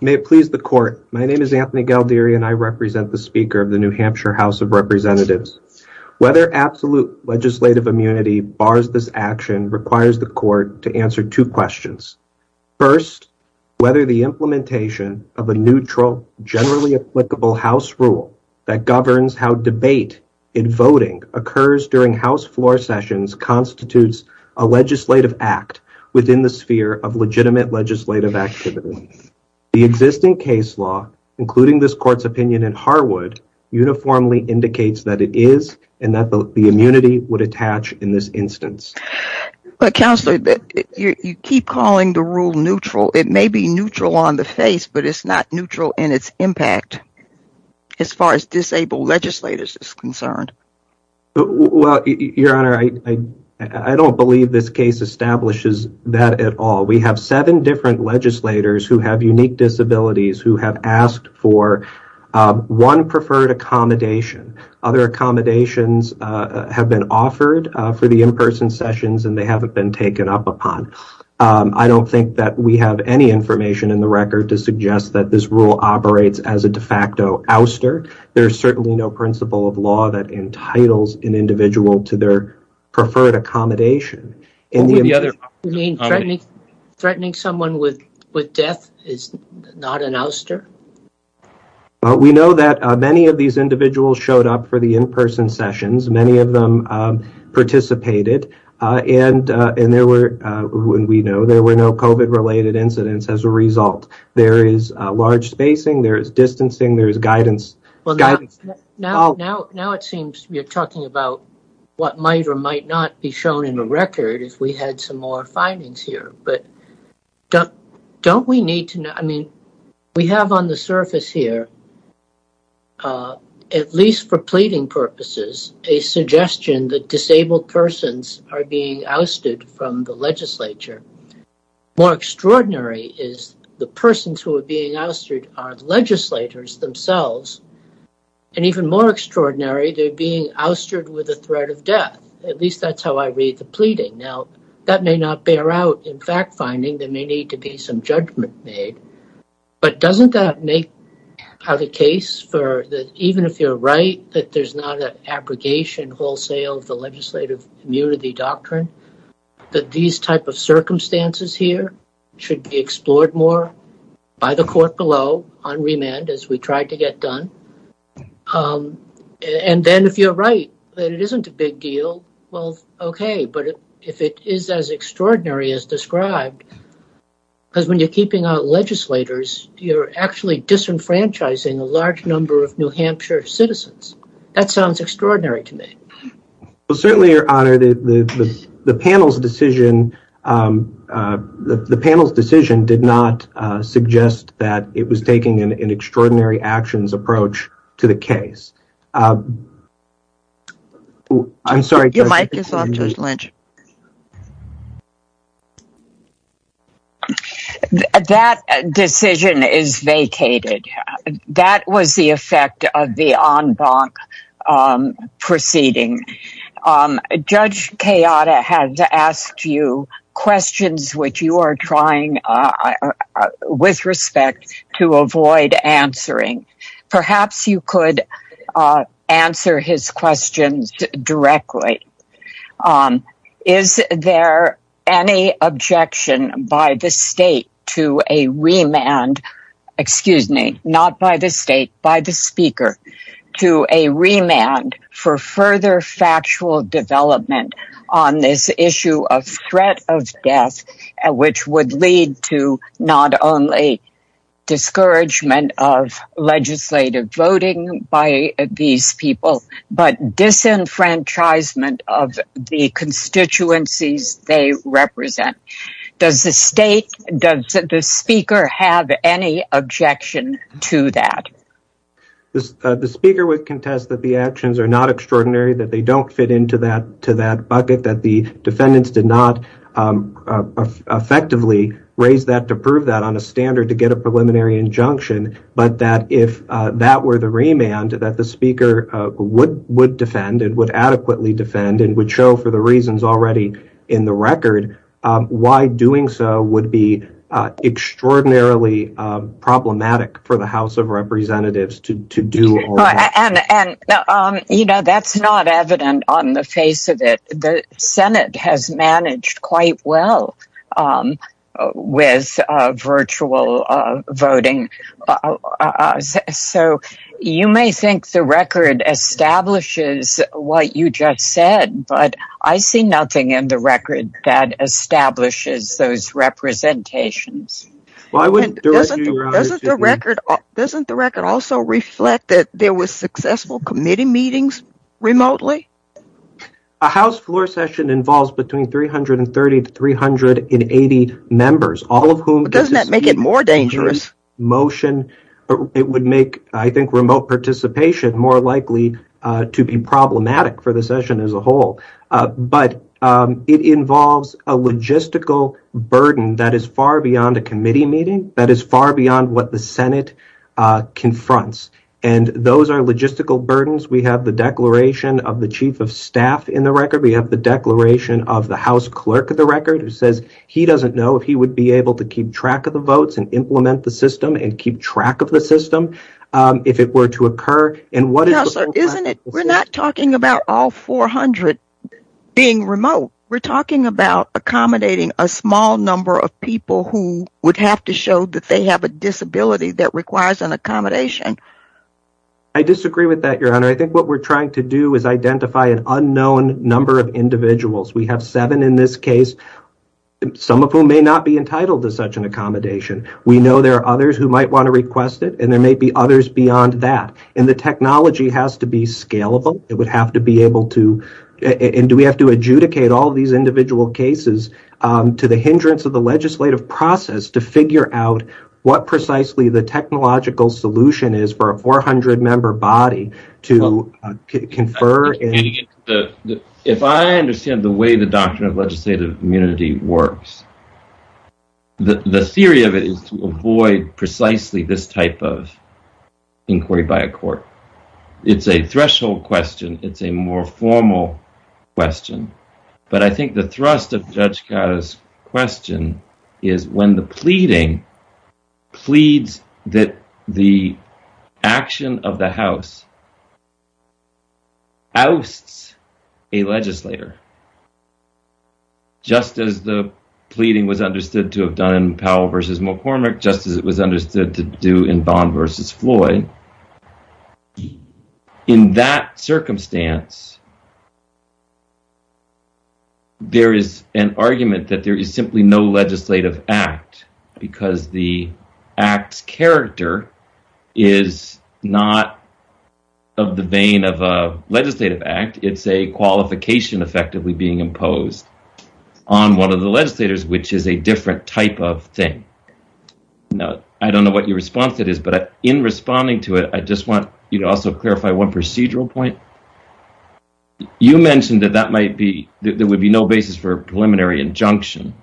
May it please the court, my name is Anthony Galdary and I represent the Speaker of the New Hampshire House of Representatives. Whether absolute legislative immunity bars this action requires the court to answer two questions. First, whether the implementation of a neutral, generally applicable House rule that governs how debate in voting occurs during House floor sessions constitutes a legislative act within the sphere of legitimate legislative activity. The existing case law, including this court's opinion in Harwood, uniformly indicates that it is and that the immunity would attach in this instance. Counsel, you keep calling the rule neutral. It may be neutral on the face, but it's not neutral in its impact as far as disabled legislators is concerned. Well, Your Honor, I don't believe this case establishes that at all. We have seven different legislators who have unique disabilities who have asked for one preferred accommodation. Other accommodations have been offered for the in-person sessions and they haven't been taken up upon. I don't think that we have any information in the record to suggest that this rule operates as a de facto ouster. There's certainly no principle of law that entitles an individual to their preferred accommodation. You mean threatening someone with death is not an ouster? We know that many of these individuals showed up for the in-person sessions. Many of them participated and there were, we know, there were no COVID-related incidents as a result. There is large spacing, there is distancing, there is guidance. Now it seems you're talking about what might or might not be shown in the record if we had some more findings here. But don't we need to know, I mean, we have on the surface here, at least for pleading purposes, a suggestion that disabled persons are being ousted from the legislature. More extraordinary is the persons who are being ousted are legislators themselves. And even more extraordinary, they're being oustered with the threat of death. At least that's how I read the pleading. Now that may not bear out in fact finding. There may need to be some judgment made. But doesn't that make the case for that even if you're right, that there's not an abrogation wholesale of the legislative immunity doctrine, that these type of circumstances here should be explored more by the court below on remand as we try to get done. And then if you're right, that it isn't a big deal, well, okay. But if it is as extraordinary as described, because when you're keeping out legislators, you're actually disenfranchising a large number of New Hampshire citizens. That sounds extraordinary to me. Well, certainly, Your Honor, the panel's decision did not suggest that it was taking an extraordinary actions approach to the case. I'm sorry. Your mic is off, Judge Lynch. That decision is vacated. That was the effect of the en banc proceeding. Judge Kayada has asked you questions which you are trying with respect to avoid answering. Perhaps you could answer his questions directly. Is there any objection by the state to a remand, excuse me, not by the state, by the speaker, to a remand for further factual development on this issue of threat of death, which would lead to not only discouragement of legislative voting by these people, but disenfranchisement of the constituencies they represent? Does the state, does the speaker have any objection to that? The speaker would contest that the actions are not extraordinary, that they don't fit into that bucket, that the defendants did not effectively raise that to prove that on a standard to get a preliminary injunction, but that if that were the remand that the speaker would defend and would adequately defend and would show for the reasons already in the record, why doing so would be extraordinarily problematic for the House of Representatives to do. And, you know, that's not evident on the face of it. The Senate has managed quite well with virtual voting. So you may think the record establishes what you just said, but I see nothing in the record that establishes those representations. Doesn't the record also reflect that there was successful committee meetings remotely? A House floor session involves between 330 to 380 members, all of whom- Doesn't that make it more dangerous? It would make, I think, remote participation more likely to be problematic for the session as a whole. But it involves a logistical burden that is far beyond a committee meeting, that is far beyond what the Senate confronts. And those are logistical burdens. We have the declaration of the chief of staff in the record. We have the declaration of the House clerk of the record, who says he doesn't know if he would be able to keep track of the votes and implement the system and keep track of the system if it were to occur. We're not talking about all 400 being remote. We're talking about accommodating a small number of people who would have to show that they have a disability that requires an accommodation. And I think what we're trying to do is identify an unknown number of individuals. We have seven in this case, some of whom may not be entitled to such an accommodation. We know there are others who might want to request it, and there may be others beyond that. And do we have to adjudicate all of these individual cases to the hindrance of the legislative process to figure out what precisely the technological solution is for a 400-member body to confer? If I understand the way the doctrine of legislative immunity works, the theory of it is to avoid precisely this type of inquiry by a court. It's a threshold question. It's a more formal question. But I think the thrust of Judge Carter's question is when the pleading pleads that the action of the House ousts a legislator, just as the pleading was understood to have done in Powell v. McCormick, just as it was understood to do in Bond v. Floyd. In that circumstance, there is an argument that there is simply no legislative act, because the act's character is not of the vein of a legislative act. It's a qualification effectively being imposed on one of the legislators, which is a different type of thing. I don't know what your response to this, but in responding to it, I just want you to also clarify one procedural point. You mentioned that there would be no basis for a preliminary injunction.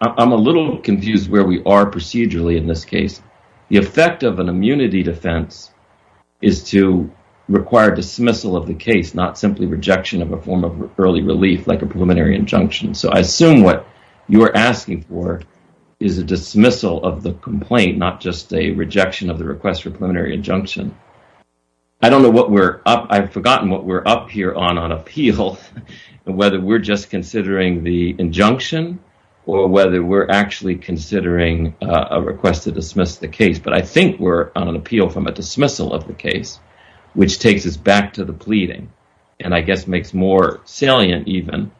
I'm a little confused where we are procedurally in this case. The effect of an immunity defense is to require dismissal of the case, not simply rejection of a form of early relief like a preliminary injunction. So I assume what you are asking for is a dismissal of the complaint, not just a rejection of the request for preliminary injunction. I don't know what we're – I've forgotten what we're up here on, on appeal, whether we're just considering the injunction or whether we're actually considering a request to dismiss the case. But I think we're on an appeal from a dismissal of the case, which takes us back to the pleading, and I guess makes more salient even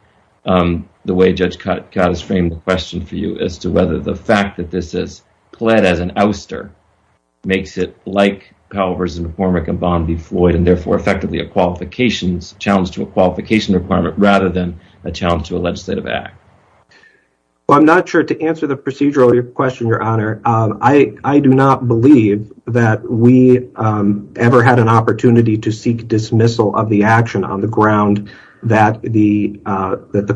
the way Judge Cottis framed the question for you, as to whether the fact that this is pled as an ouster makes it like Powell v. McCormick and Bond v. Floyd, and therefore effectively a challenge to a qualification requirement rather than a challenge to a legislative act. Well, I'm not sure to answer the procedural question, Your Honor. I do not believe that we ever had an opportunity to seek dismissal of the action on the ground that the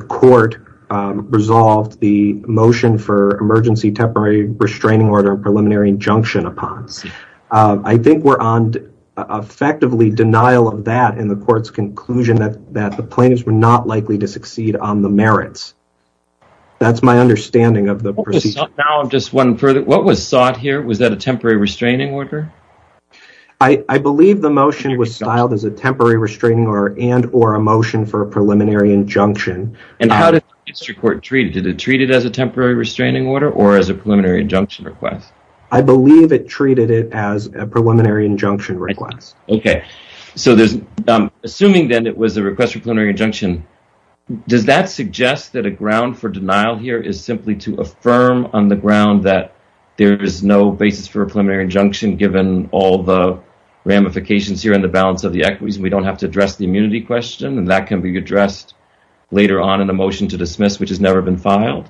court resolved the motion for emergency temporary restraining order and preliminary injunction upon. I think we're on effectively denial of that in the court's conclusion that the plaintiffs were not likely to succeed on the merits. That's my understanding of the procedure. Now I'm just wondering further, what was sought here? Was that a temporary restraining order? I believe the motion was filed as a temporary restraining order and or a motion for a preliminary injunction. And how did the district court treat it? Did it treat it as a temporary restraining order or as a preliminary injunction request? I believe it treated it as a preliminary injunction request. Okay. So assuming then it was a request for a preliminary injunction, does that suggest that a ground for denial here is simply to affirm on the ground that there is no basis for a preliminary injunction given all the ramifications here and the balance of the equities and we don't have to address the immunity question? And that can be addressed later on in the motion to dismiss, which has never been filed?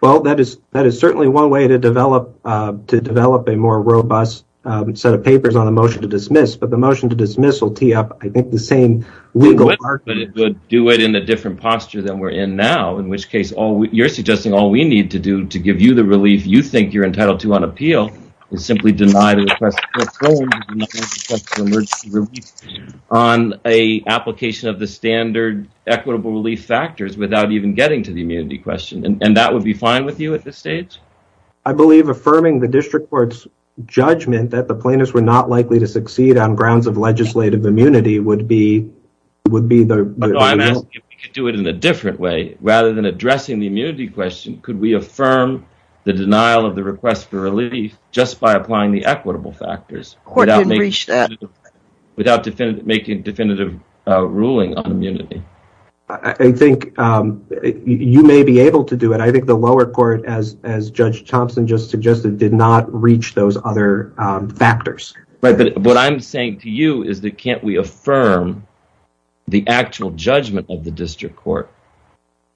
Well, that is certainly one way to develop a more robust set of papers on a motion to dismiss. But the motion to dismiss will tee up, I think, the same legal argument. But it would do it in a different posture than we're in now, in which case you're suggesting all we need to do to give you the relief you think you're entitled to on appeal is simply deny the request. On a application of the standard equitable relief factors without even getting to the immunity question. And that would be fine with you at this stage? I believe affirming the district court's judgment that the plaintiffs were not likely to succeed on grounds of legislative immunity would be the... No, I meant you could do it in a different way. Rather than addressing the immunity question, could we affirm the denial of the request for relief just by applying the equitable factors? The court didn't reach that. Without making definitive ruling on immunity. I think you may be able to do it. I think the lower court, as Judge Thompson just suggested, did not reach those other factors. But what I'm saying to you is that can't we affirm the actual judgment of the district court,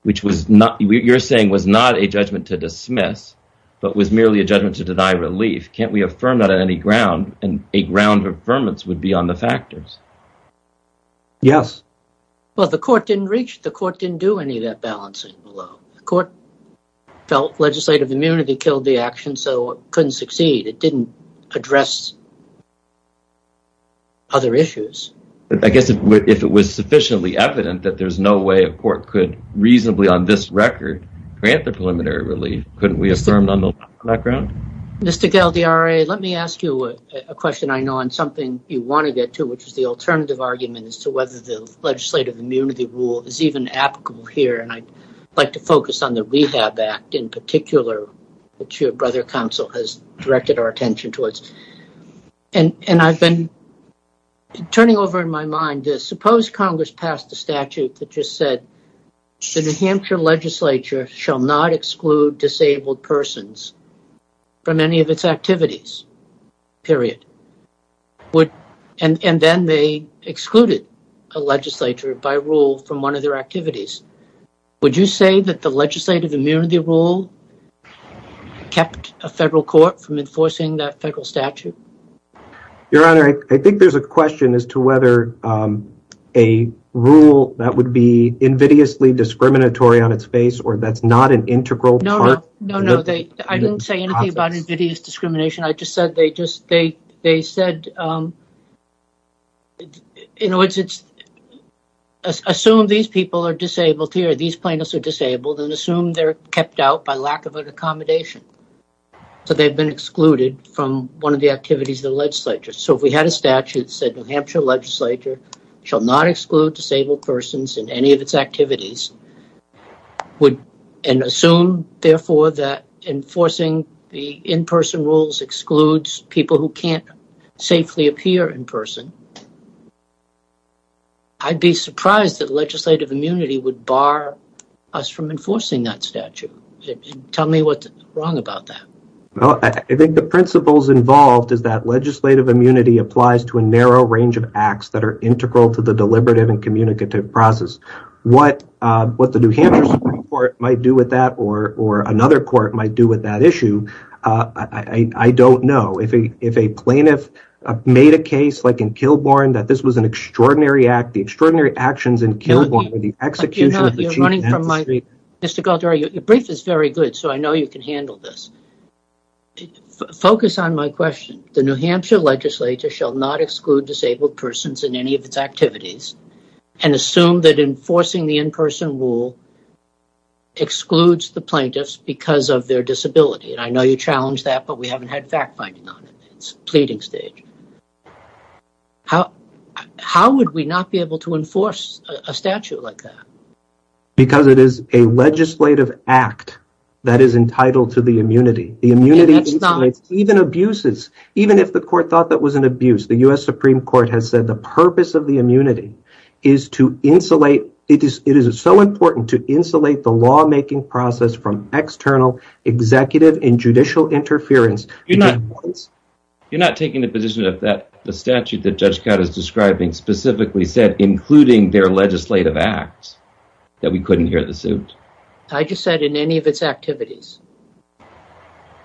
which you're saying was not a judgment to dismiss, but was merely a judgment to deny relief. Can't we affirm that on any ground? And a ground of affirmance would be on the factors. Yes. Well, the court didn't reach, the court didn't do any of that balancing below. The court felt legislative immunity killed the action, so it couldn't succeed. It didn't address other issues. I guess if it was sufficiently evident that there's no way a court could reasonably on this record grant the preliminary relief, couldn't we affirm on that ground? Mr. Gell, the RA, let me ask you a question I know on something you wanted it to, which is the alternative argument as to whether the legislative immunity rule is even applicable here. And I'd like to focus on the REHAB Act in particular, which your brother counsel has directed our attention towards. And I've been turning over in my mind this. Suppose Congress passed a statute that just said the New Hampshire legislature shall not exclude disabled persons from any of its activities, period. And then they excluded a legislature by rule from one of their activities. Would you say that the legislative immunity rule kept a federal court from enforcing that federal statute? Your Honor, I think there's a question as to whether a rule that would be invidiously discriminatory on its face or that's not an integral part. No, no. I didn't say anything about invidious discrimination. I just said they said, assume these people are disabled here, these plaintiffs are disabled, and assume they're kept out by lack of an accommodation. So they've been excluded from one of the activities of the legislature. So we had a statute that said New Hampshire legislature shall not exclude disabled persons in any of its activities. And assume, therefore, that enforcing the in-person rules excludes people who can't safely appear in person. I'd be surprised that legislative immunity would bar us from enforcing that statute. Tell me what's wrong about that. Well, I think the principles involved is that legislative immunity applies to a narrow range of acts that are integral to the deliberative and communicative process. What the New Hampshire Supreme Court might do with that, or another court might do with that issue, I don't know. If a plaintiff made a case, like in Kilbourne, that this was an extraordinary act, the extraordinary actions in Kilbourne, the execution of the Chief Justice... But you know, you're running from my... Mr. Goddard, your brief is very good, so I know you can handle this. Focus on my question. The New Hampshire legislature shall not exclude disabled persons in any of its activities. And assume that enforcing the in-person rule excludes the plaintiffs because of their disability. And I know you challenged that, but we haven't had fact-finding on it. It's a pleading stage. How would we not be able to enforce a statute like that? Because it is a legislative act that is entitled to the immunity. Even abuses, even if the court thought that was an abuse. The U.S. Supreme Court has said the purpose of the immunity is to insulate... It is so important to insulate the law-making process from external, executive, and judicial interference. You're not taking the position that the statute that Judge Catt is describing specifically said, including their legislative acts, that we couldn't hear the suit? I just said in any of its activities.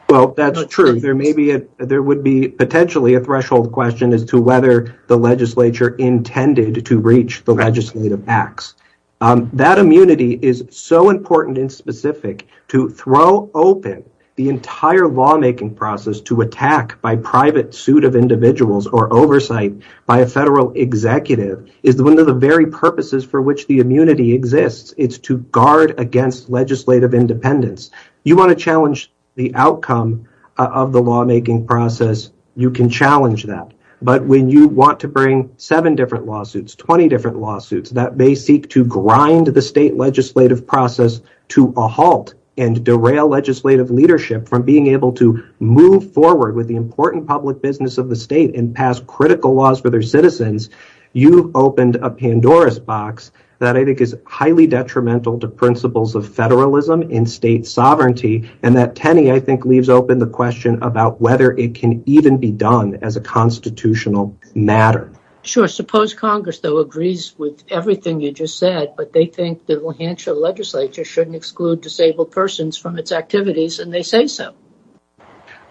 Well, that's not true. There would be potentially a threshold question as to whether the legislature intended to reach the legislative acts. That immunity is so important and specific. To throw open the entire law-making process to attack by private suit of individuals or oversight by a federal executive is one of the very purposes for which the immunity exists. It's to guard against legislative independence. You want to challenge the outcome of the law-making process, you can challenge that. But when you want to bring seven different lawsuits, 20 different lawsuits that may seek to grind the state legislative process to a halt and derail legislative leadership from being able to move forward with the important public business of the state and pass critical laws for their citizens. You opened a Pandora's box that I think is highly detrimental to principles of federalism and state sovereignty. And that, Kenny, I think leaves open the question about whether it can even be done as a constitutional matter. Sure. Suppose Congress, though, agrees with everything you just said, but they think that the Lehanshaw legislature shouldn't exclude disabled persons from its activities and they say so.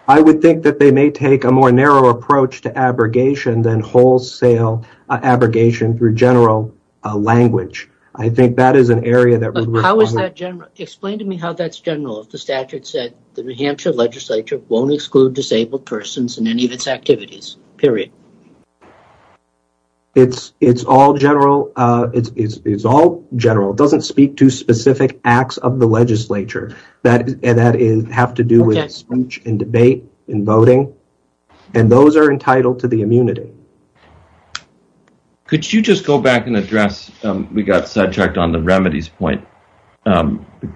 I would think that they may take a more narrow approach to abrogation than wholesale abrogation through general language. Explain to me how that's general if the statute said the Lehanshaw legislature won't exclude disabled persons in any of its activities. Period. It's all general. It doesn't speak to specific acts of the legislature that have to do with speech and debate and voting. And those are entitled to the immunity. Could you just go back and address, we got sidetracked on the remedies point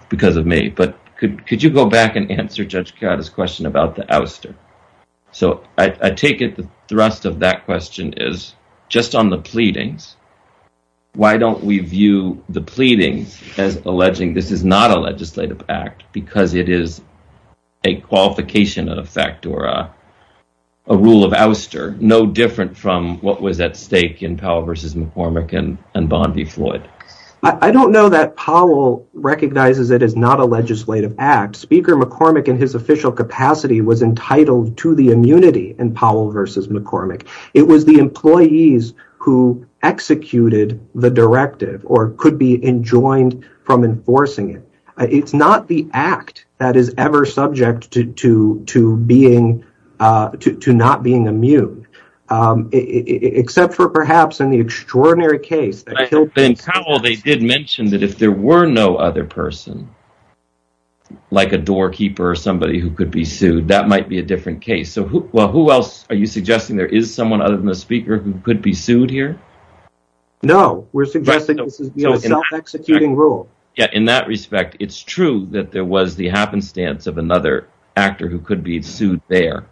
because of me, but could you go back and answer Judge Karata's question about the ouster? So I take it the thrust of that question is just on the pleadings. Why don't we view the pleadings as alleging this is not a legislative act because it is a qualification of fact or a rule of ouster, no different from what was at stake in Powell v. McCormick and Bond v. Floyd? I don't know that Powell recognizes it is not a legislative act. Speaker McCormick in his official capacity was entitled to the immunity in Powell v. McCormick. It was the employees who executed the directive or could be enjoined from enforcing it. It's not the act that is ever subject to not being immune, except for perhaps in the extraordinary case. In Powell they did mention that if there were no other person, like a doorkeeper or somebody who could be sued, that might be a different case. So who else are you suggesting there is someone other than the speaker who could be sued here? No, we're suggesting this is not an executing rule. In that respect, it's true that there was the happenstance of another actor who could be sued there.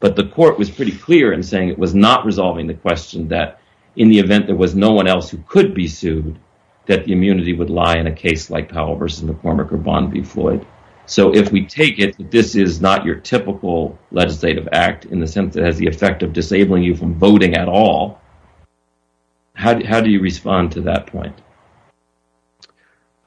But the court was pretty clear in saying it was not resolving the question that in the event there was no one else who could be sued, that the immunity would lie in a case like Powell v. McCormick or Bond v. Floyd. So if we take it that this is not your typical legislative act in the sense that it has the effect of disabling you from voting at all, how do you respond to that point?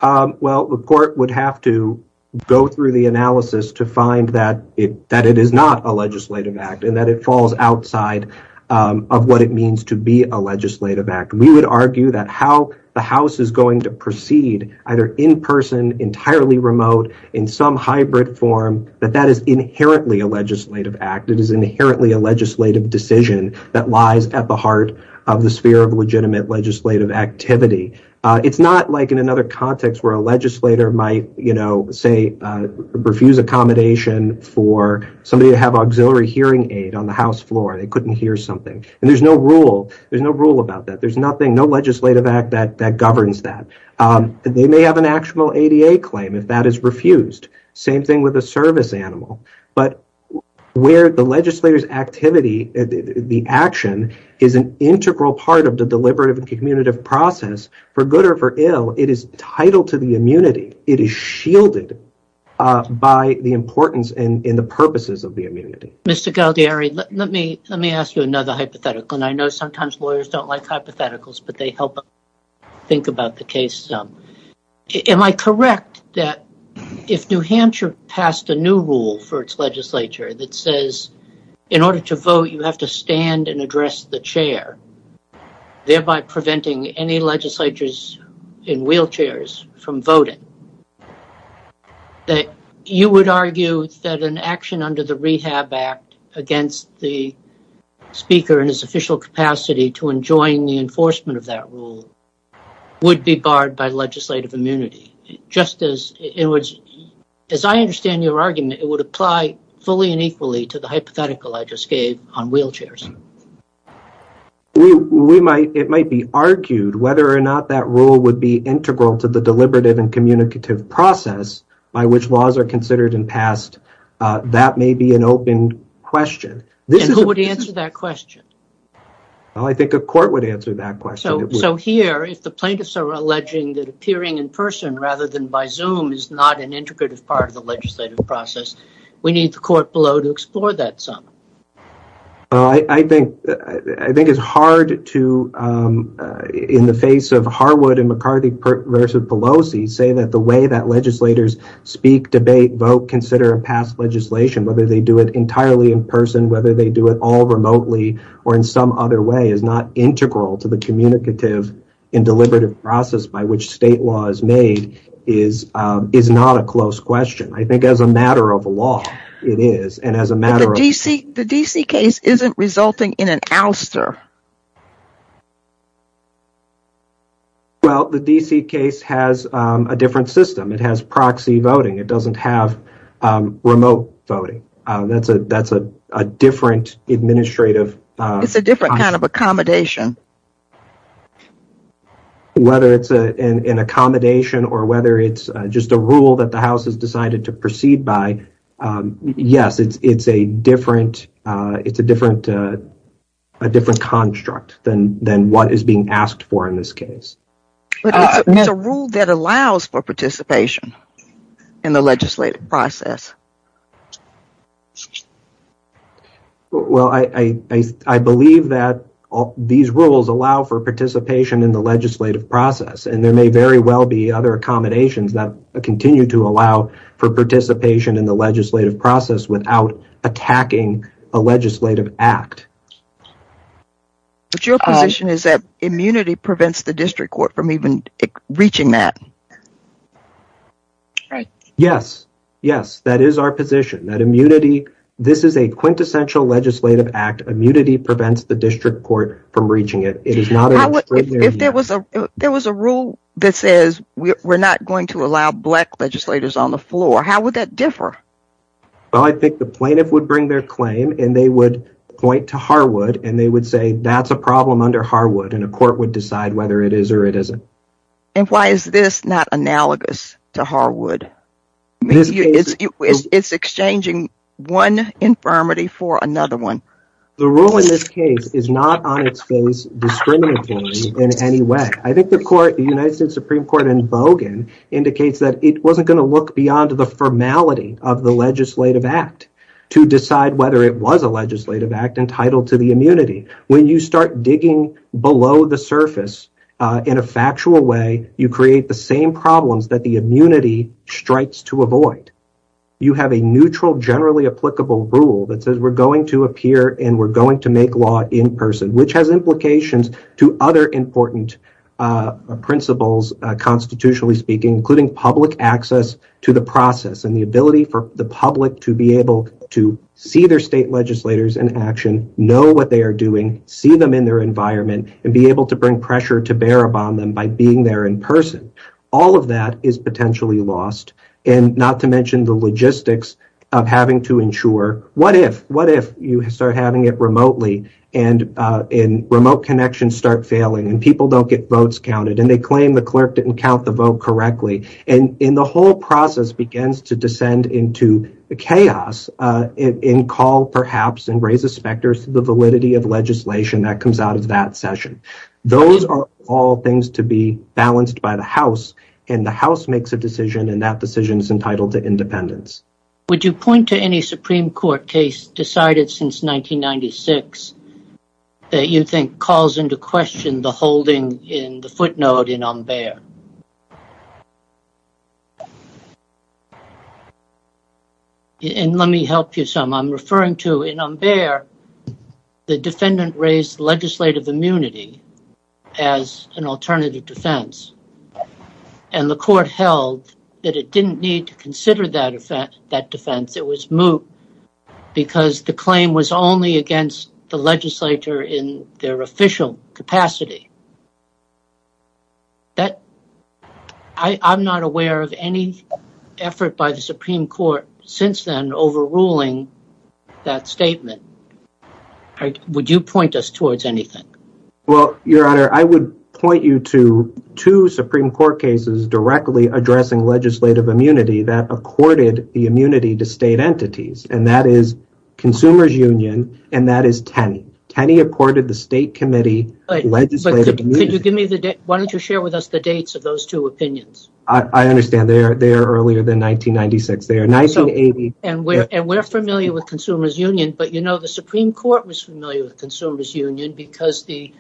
Well, the court would have to go through the analysis to find that it is not a legislative act and that it falls outside of what it means to be a legislative act. We would argue that how the House is going to proceed either in person, entirely remote, in some hybrid form, that that is inherently a legislative act. It is inherently a legislative decision that lies at the heart of the sphere of legitimate legislative activity. It's not like in another context where a legislator might refuse accommodation for somebody to have auxiliary hearing aid on the House floor. They couldn't hear something. And there's no rule about that. There's no legislative act that governs that. They may have an actual ADA claim if that is refused. Same thing with a service animal. But where the legislator's activity, the action, is an integral part of the deliberative and commutative process, for good or for ill, it is title to the immunity. It is shielded by the importance and the purposes of the immunity. Mr. Galdieri, let me ask you another hypothetical. And I know sometimes lawyers don't like hypotheticals, but they help us think about the case. Am I correct that if New Hampshire passed a new rule for its legislature that says in order to vote, you have to stand and address the chair, thereby preventing any legislatures in wheelchairs from voting, that you would argue that an action under the Rehab Act against the speaker in his official capacity to enjoin the enforcement of that rule would be barred by legislative immunity? Just as I understand your argument, it would apply fully and equally to the hypothetical I just gave on wheelchairs. It might be argued whether or not that rule would be integral to the deliberative and communicative process by which laws are considered and passed. That may be an open question. And who would answer that question? I think a court would answer that question. So here, if the plaintiffs are alleging that appearing in person rather than by Zoom is not an integrative part of the legislative process, we need the court below to explore that some. I think it's hard to, in the face of Harwood and McCarty versus Pelosi, say that the way that legislators speak, debate, vote, consider and pass legislation, whether they do it entirely in person, whether they do it all remotely or in some other way, is not integral to the communicative and deliberative process by which state law is made, is not a close question. I think as a matter of law, it is. The D.C. case isn't resulting in an ouster. Well, the D.C. case has a different system. It has proxy voting. It doesn't have remote voting. That's a different administrative. It's a different kind of accommodation. Whether it's an accommodation or whether it's just a rule that the House has decided to proceed by, yes, it's a different construct than what is being asked for in this case. But it's a rule that allows for participation in the legislative process. Well, I believe that these rules allow for participation in the legislative process, and there may very well be other accommodations that continue to allow for participation in the legislative process without attacking a legislative act. But your position is that immunity prevents the district court from even reaching that. Yes. Yes. That is our position, that immunity. This is a quintessential legislative act. Immunity prevents the district court from reaching it. If there was a rule that says we're not going to allow black legislators on the floor, how would that differ? Well, I think the plaintiff would bring their claim, and they would point to Harwood, and they would say that's a problem under Harwood, and a court would decide whether it is or it isn't. And why is this not analogous to Harwood? It's exchanging one infirmity for another one. The rule in this case is not on its face discriminatory in any way. I think the United States Supreme Court in Bogan indicates that it wasn't going to look beyond the formality of the legislative act to decide whether it was a legislative act entitled to the immunity. When you start digging below the surface in a factual way, you create the same problems that the immunity strikes to avoid. You have a neutral, generally applicable rule that says we're going to appear and we're going to make law in person, which has implications to other important principles constitutionally speaking, including public access to the process and the ability for the public to be able to see their state legislators in action, know what they are doing, see them in their environment, and be able to bring pressure to bear upon them by being there in person. All of that is potentially lost, and not to mention the logistics of having to ensure what if, what if you start having it remotely, and remote connections start failing, and people don't get votes counted, and they claim the clerk didn't count the vote correctly. The whole process begins to descend into chaos and call, perhaps, and raise the specters to the validity of legislation that comes out of that session. Those are all things to be balanced by the House, and the House makes a decision, and that decision is entitled to independence. Would you point to any Supreme Court case decided since 1996 that you think calls into question the holding in the footnote in Ombere? And let me help you some. I'm referring to in Ombere, the defendant raised legislative immunity as an alternative defense, and the court held that it didn't need to consider that defense. It was moot because the claim was only against the legislature in their official capacity. I'm not aware of any effort by the Supreme Court since then overruling that statement. Would you point us towards anything? Well, Your Honor, I would point you to two Supreme Court cases directly addressing legislative immunity that accorded the immunity to state entities, and that is Consumers Union, and that is Tenney. Tenney accorded the state committee legislative immunity. Why don't you share with us the dates of those two opinions? I understand. They're earlier than 1996. They're 1980. And we're familiar with Consumers Union, but, you know, the Supreme Court was familiar with Consumers Union because the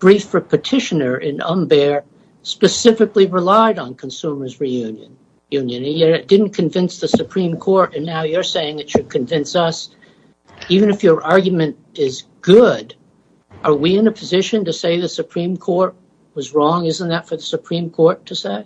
brief for petitioner in Ombere specifically relied on Consumers Union. And yet it didn't convince the Supreme Court, and now you're saying it should convince us. Even if your argument is good, are we in a position to say the Supreme Court was wrong? Isn't that for the Supreme Court to say?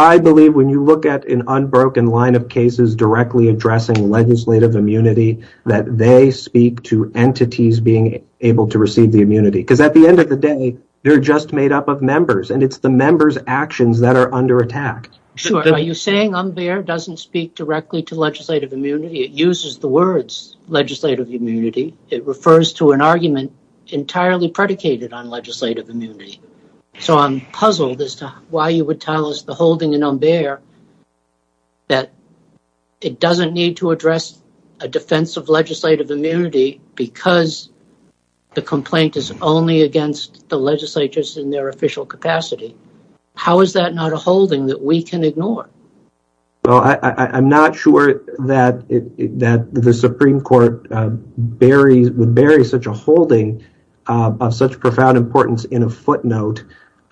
I believe when you look at an unbroken line of cases directly addressing legislative immunity, that they speak to entities being able to receive the immunity. Because at the end of the day, they're just made up of members, and it's the members' actions that are under attack. Are you saying Ombere doesn't speak directly to legislative immunity? It uses the words legislative immunity. It refers to an argument entirely predicated on legislative immunity. So I'm puzzled as to why you would tell us the holding in Ombere that it doesn't need to address a defense of legislative immunity because the complaint is only against the legislatures in their official capacity. How is that not a holding that we can ignore? Well, I'm not sure that the Supreme Court buries such a holding of such profound importance in a footnote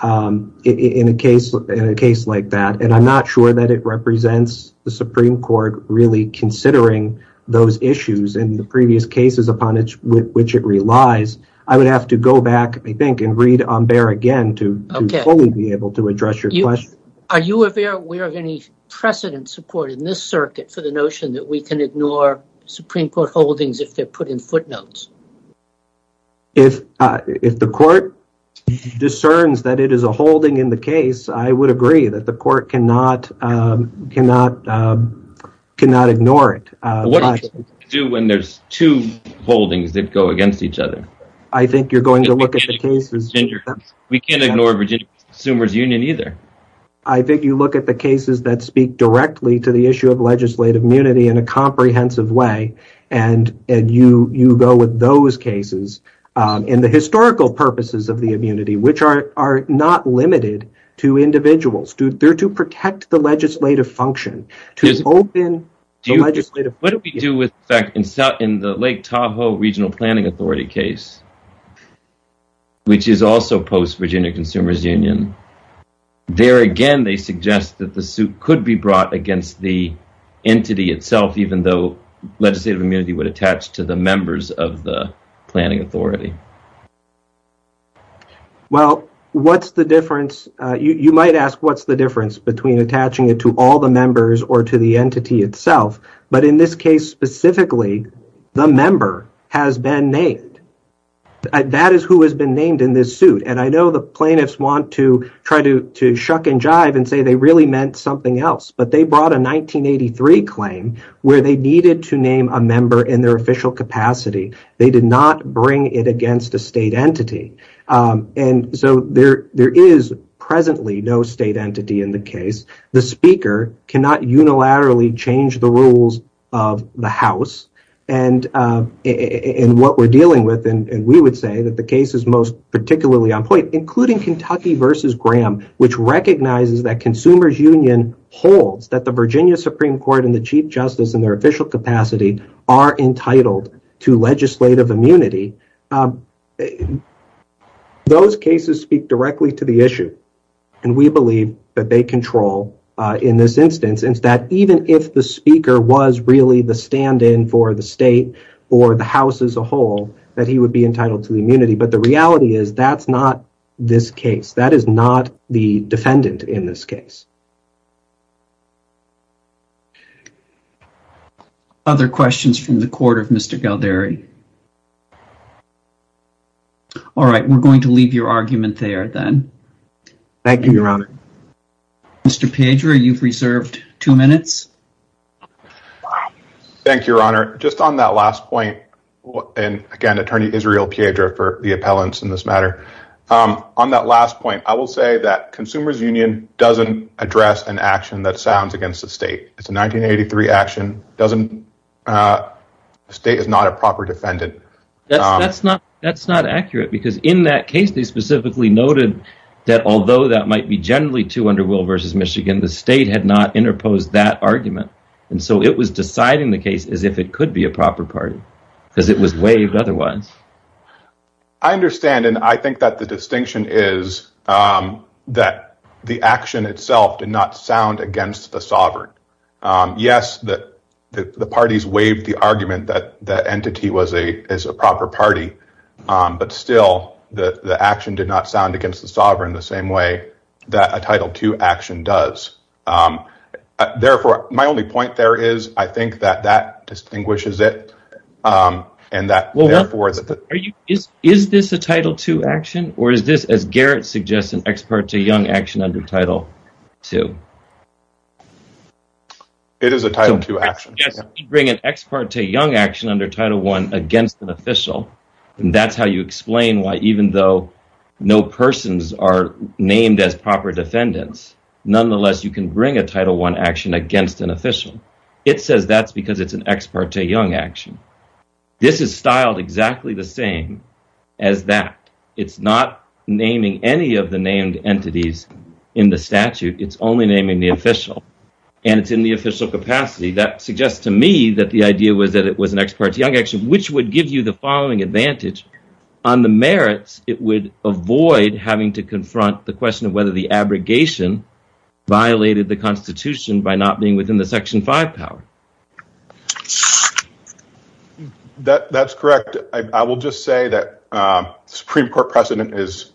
in a case like that. And I'm not sure that it represents the Supreme Court really considering those issues in the previous cases upon which it relies. I would have to go back, I think, and read Ombere again to fully be able to address your question. Are you aware of any precedent supported in this circuit for the notion that we can ignore Supreme Court holdings if they're put in footnotes? If the court discerns that it is a holding in the case, I would agree that the court cannot ignore it. What do you do when there's two holdings that go against each other? I think you're going to look at the cases... We can't ignore Virginia Consumer's Union either. I think you look at the cases that speak directly to the issue of legislative immunity in a comprehensive way and you go with those cases in the historical purposes of the immunity, which are not limited to individuals. They're to protect the legislative function. What do we do in the Lake Tahoe Regional Planning Authority case, which is also post-Virginia Consumer's Union? There again, they suggest that the suit could be brought against the entity itself, even though legislative immunity would attach to the members of the planning authority. Well, what's the difference? You might ask, what's the difference between attaching it to all the members or to the entity itself? But in this case specifically, the member has been named. That is who has been named in this suit. And I know the plaintiffs want to try to shuck and jive and say they really meant something else. But they brought a 1983 claim where they needed to name a member in their official capacity. They did not bring it against a state entity. And so there is presently no state entity in the case. The speaker cannot unilaterally change the rules of the house. And what we're dealing with, and we would say that the case is most particularly on point, including Kentucky v. Graham, which recognizes that Consumer's Union holds that the Virginia Supreme Court and the Chief Justice in their official capacity are entitled to legislative immunity. Those cases speak directly to the issue. And we believe that they control in this instance. That even if the speaker was really the stand-in for the state or the house as a whole, that he would be entitled to immunity. But the reality is that's not this case. That is not the defendant in this case. Other questions from the court of Mr. Gelderi? All right, we're going to leave your argument there then. Thank you, Your Honor. Mr. Piedra, you've reserved two minutes. Thank you, Your Honor. Just on that last point, and again, Attorney Israel Piedra for the appellants in this matter. On that last point, I will say that Consumer's Union doesn't address an action that stands against the state. It's a 1983 action. The state is not a proper defendant. That's not accurate, because in that case they specifically noted that although that might be generally too under will versus Michigan, the state had not interposed that argument. And so it was deciding the case as if it could be a proper party, because it was waived otherwise. I understand, and I think that the distinction is that the action itself did not sound against the sovereign. Yes, the parties waived the argument that the entity was a proper party. But still, the action did not sound against the sovereign the same way that a Title II action does. Therefore, my only point there is I think that that distinguishes it, and that, therefore... Is this a Title II action, or is this, as Garrett suggests, an expert to young action under Title II? It is a Title II action. Yes, you bring an expert to young action under Title I against an official, and that's how you explain why even though no persons are named as proper defendants, nonetheless you can bring a Title I action against an official. It says that's because it's an expert to young action. This is styled exactly the same as that. It's not naming any of the named entities in the statute. It's only naming the official, and it's in the official capacity. That suggests to me that the idea was that it was an expert to young action, which would give you the following advantage. On the merits, it would avoid having to confront the question of whether the abrogation violated the Constitution by not being within the Section 5 power. That's correct. I will just say that Supreme Court precedent is,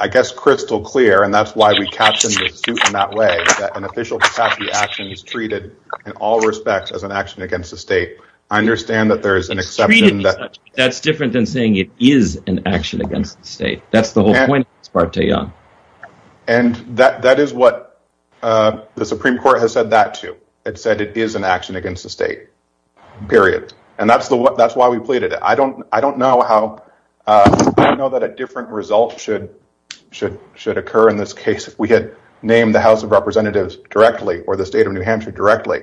I guess, crystal clear, and that's why we captioned the suit in that way, that an official capacity action is treated in all respects as an action against the state. I understand that there is an exception that... That's different than saying it is an action against the state. That's the whole point of expert to young. And that is what the Supreme Court has said that to. It said it is an action against the state, period. And that's why we pleaded it. I don't know how... I don't know that a different result should occur in this case. We could name the House of Representatives directly or the state of New Hampshire directly.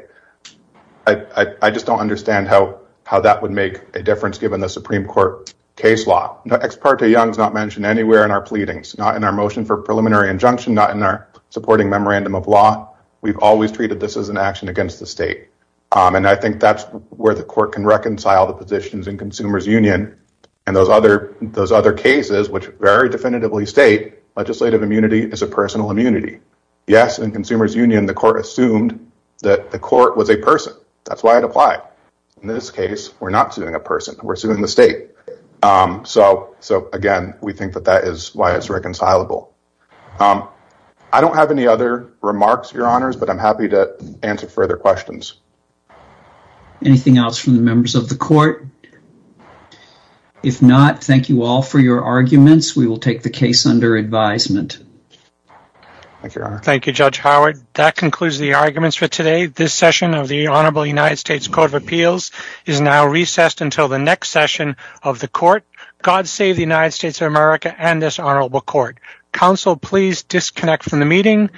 I just don't understand how that would make a difference given the Supreme Court case law. Expert to young is not mentioned anywhere in our pleadings, not in our motion for preliminary injunction, not in our supporting memorandum of law. We've always treated this as an action against the state. And I think that's where the court can reconcile the positions in Consumers Union and those other cases which very definitively state legislative immunity is a personal immunity. Yes, in Consumers Union, the court assumed that the court was a person. That's why it applied. In this case, we're not suing a person. We're suing the state. So, again, we think that that is why it's reconcilable. I don't have any other remarks, Your Honors, but I'm happy to answer further questions. Anything else from the members of the court? If not, thank you all for your arguments. We will take the case under advisement. Thank you, Your Honor. Thank you, Judge Howard. That concludes the arguments for today. This session of the Honorable United States Court of Appeals is now recessed until the next session of the court. God save the United States of America and this honorable court. Counsel, please disconnect from the meeting.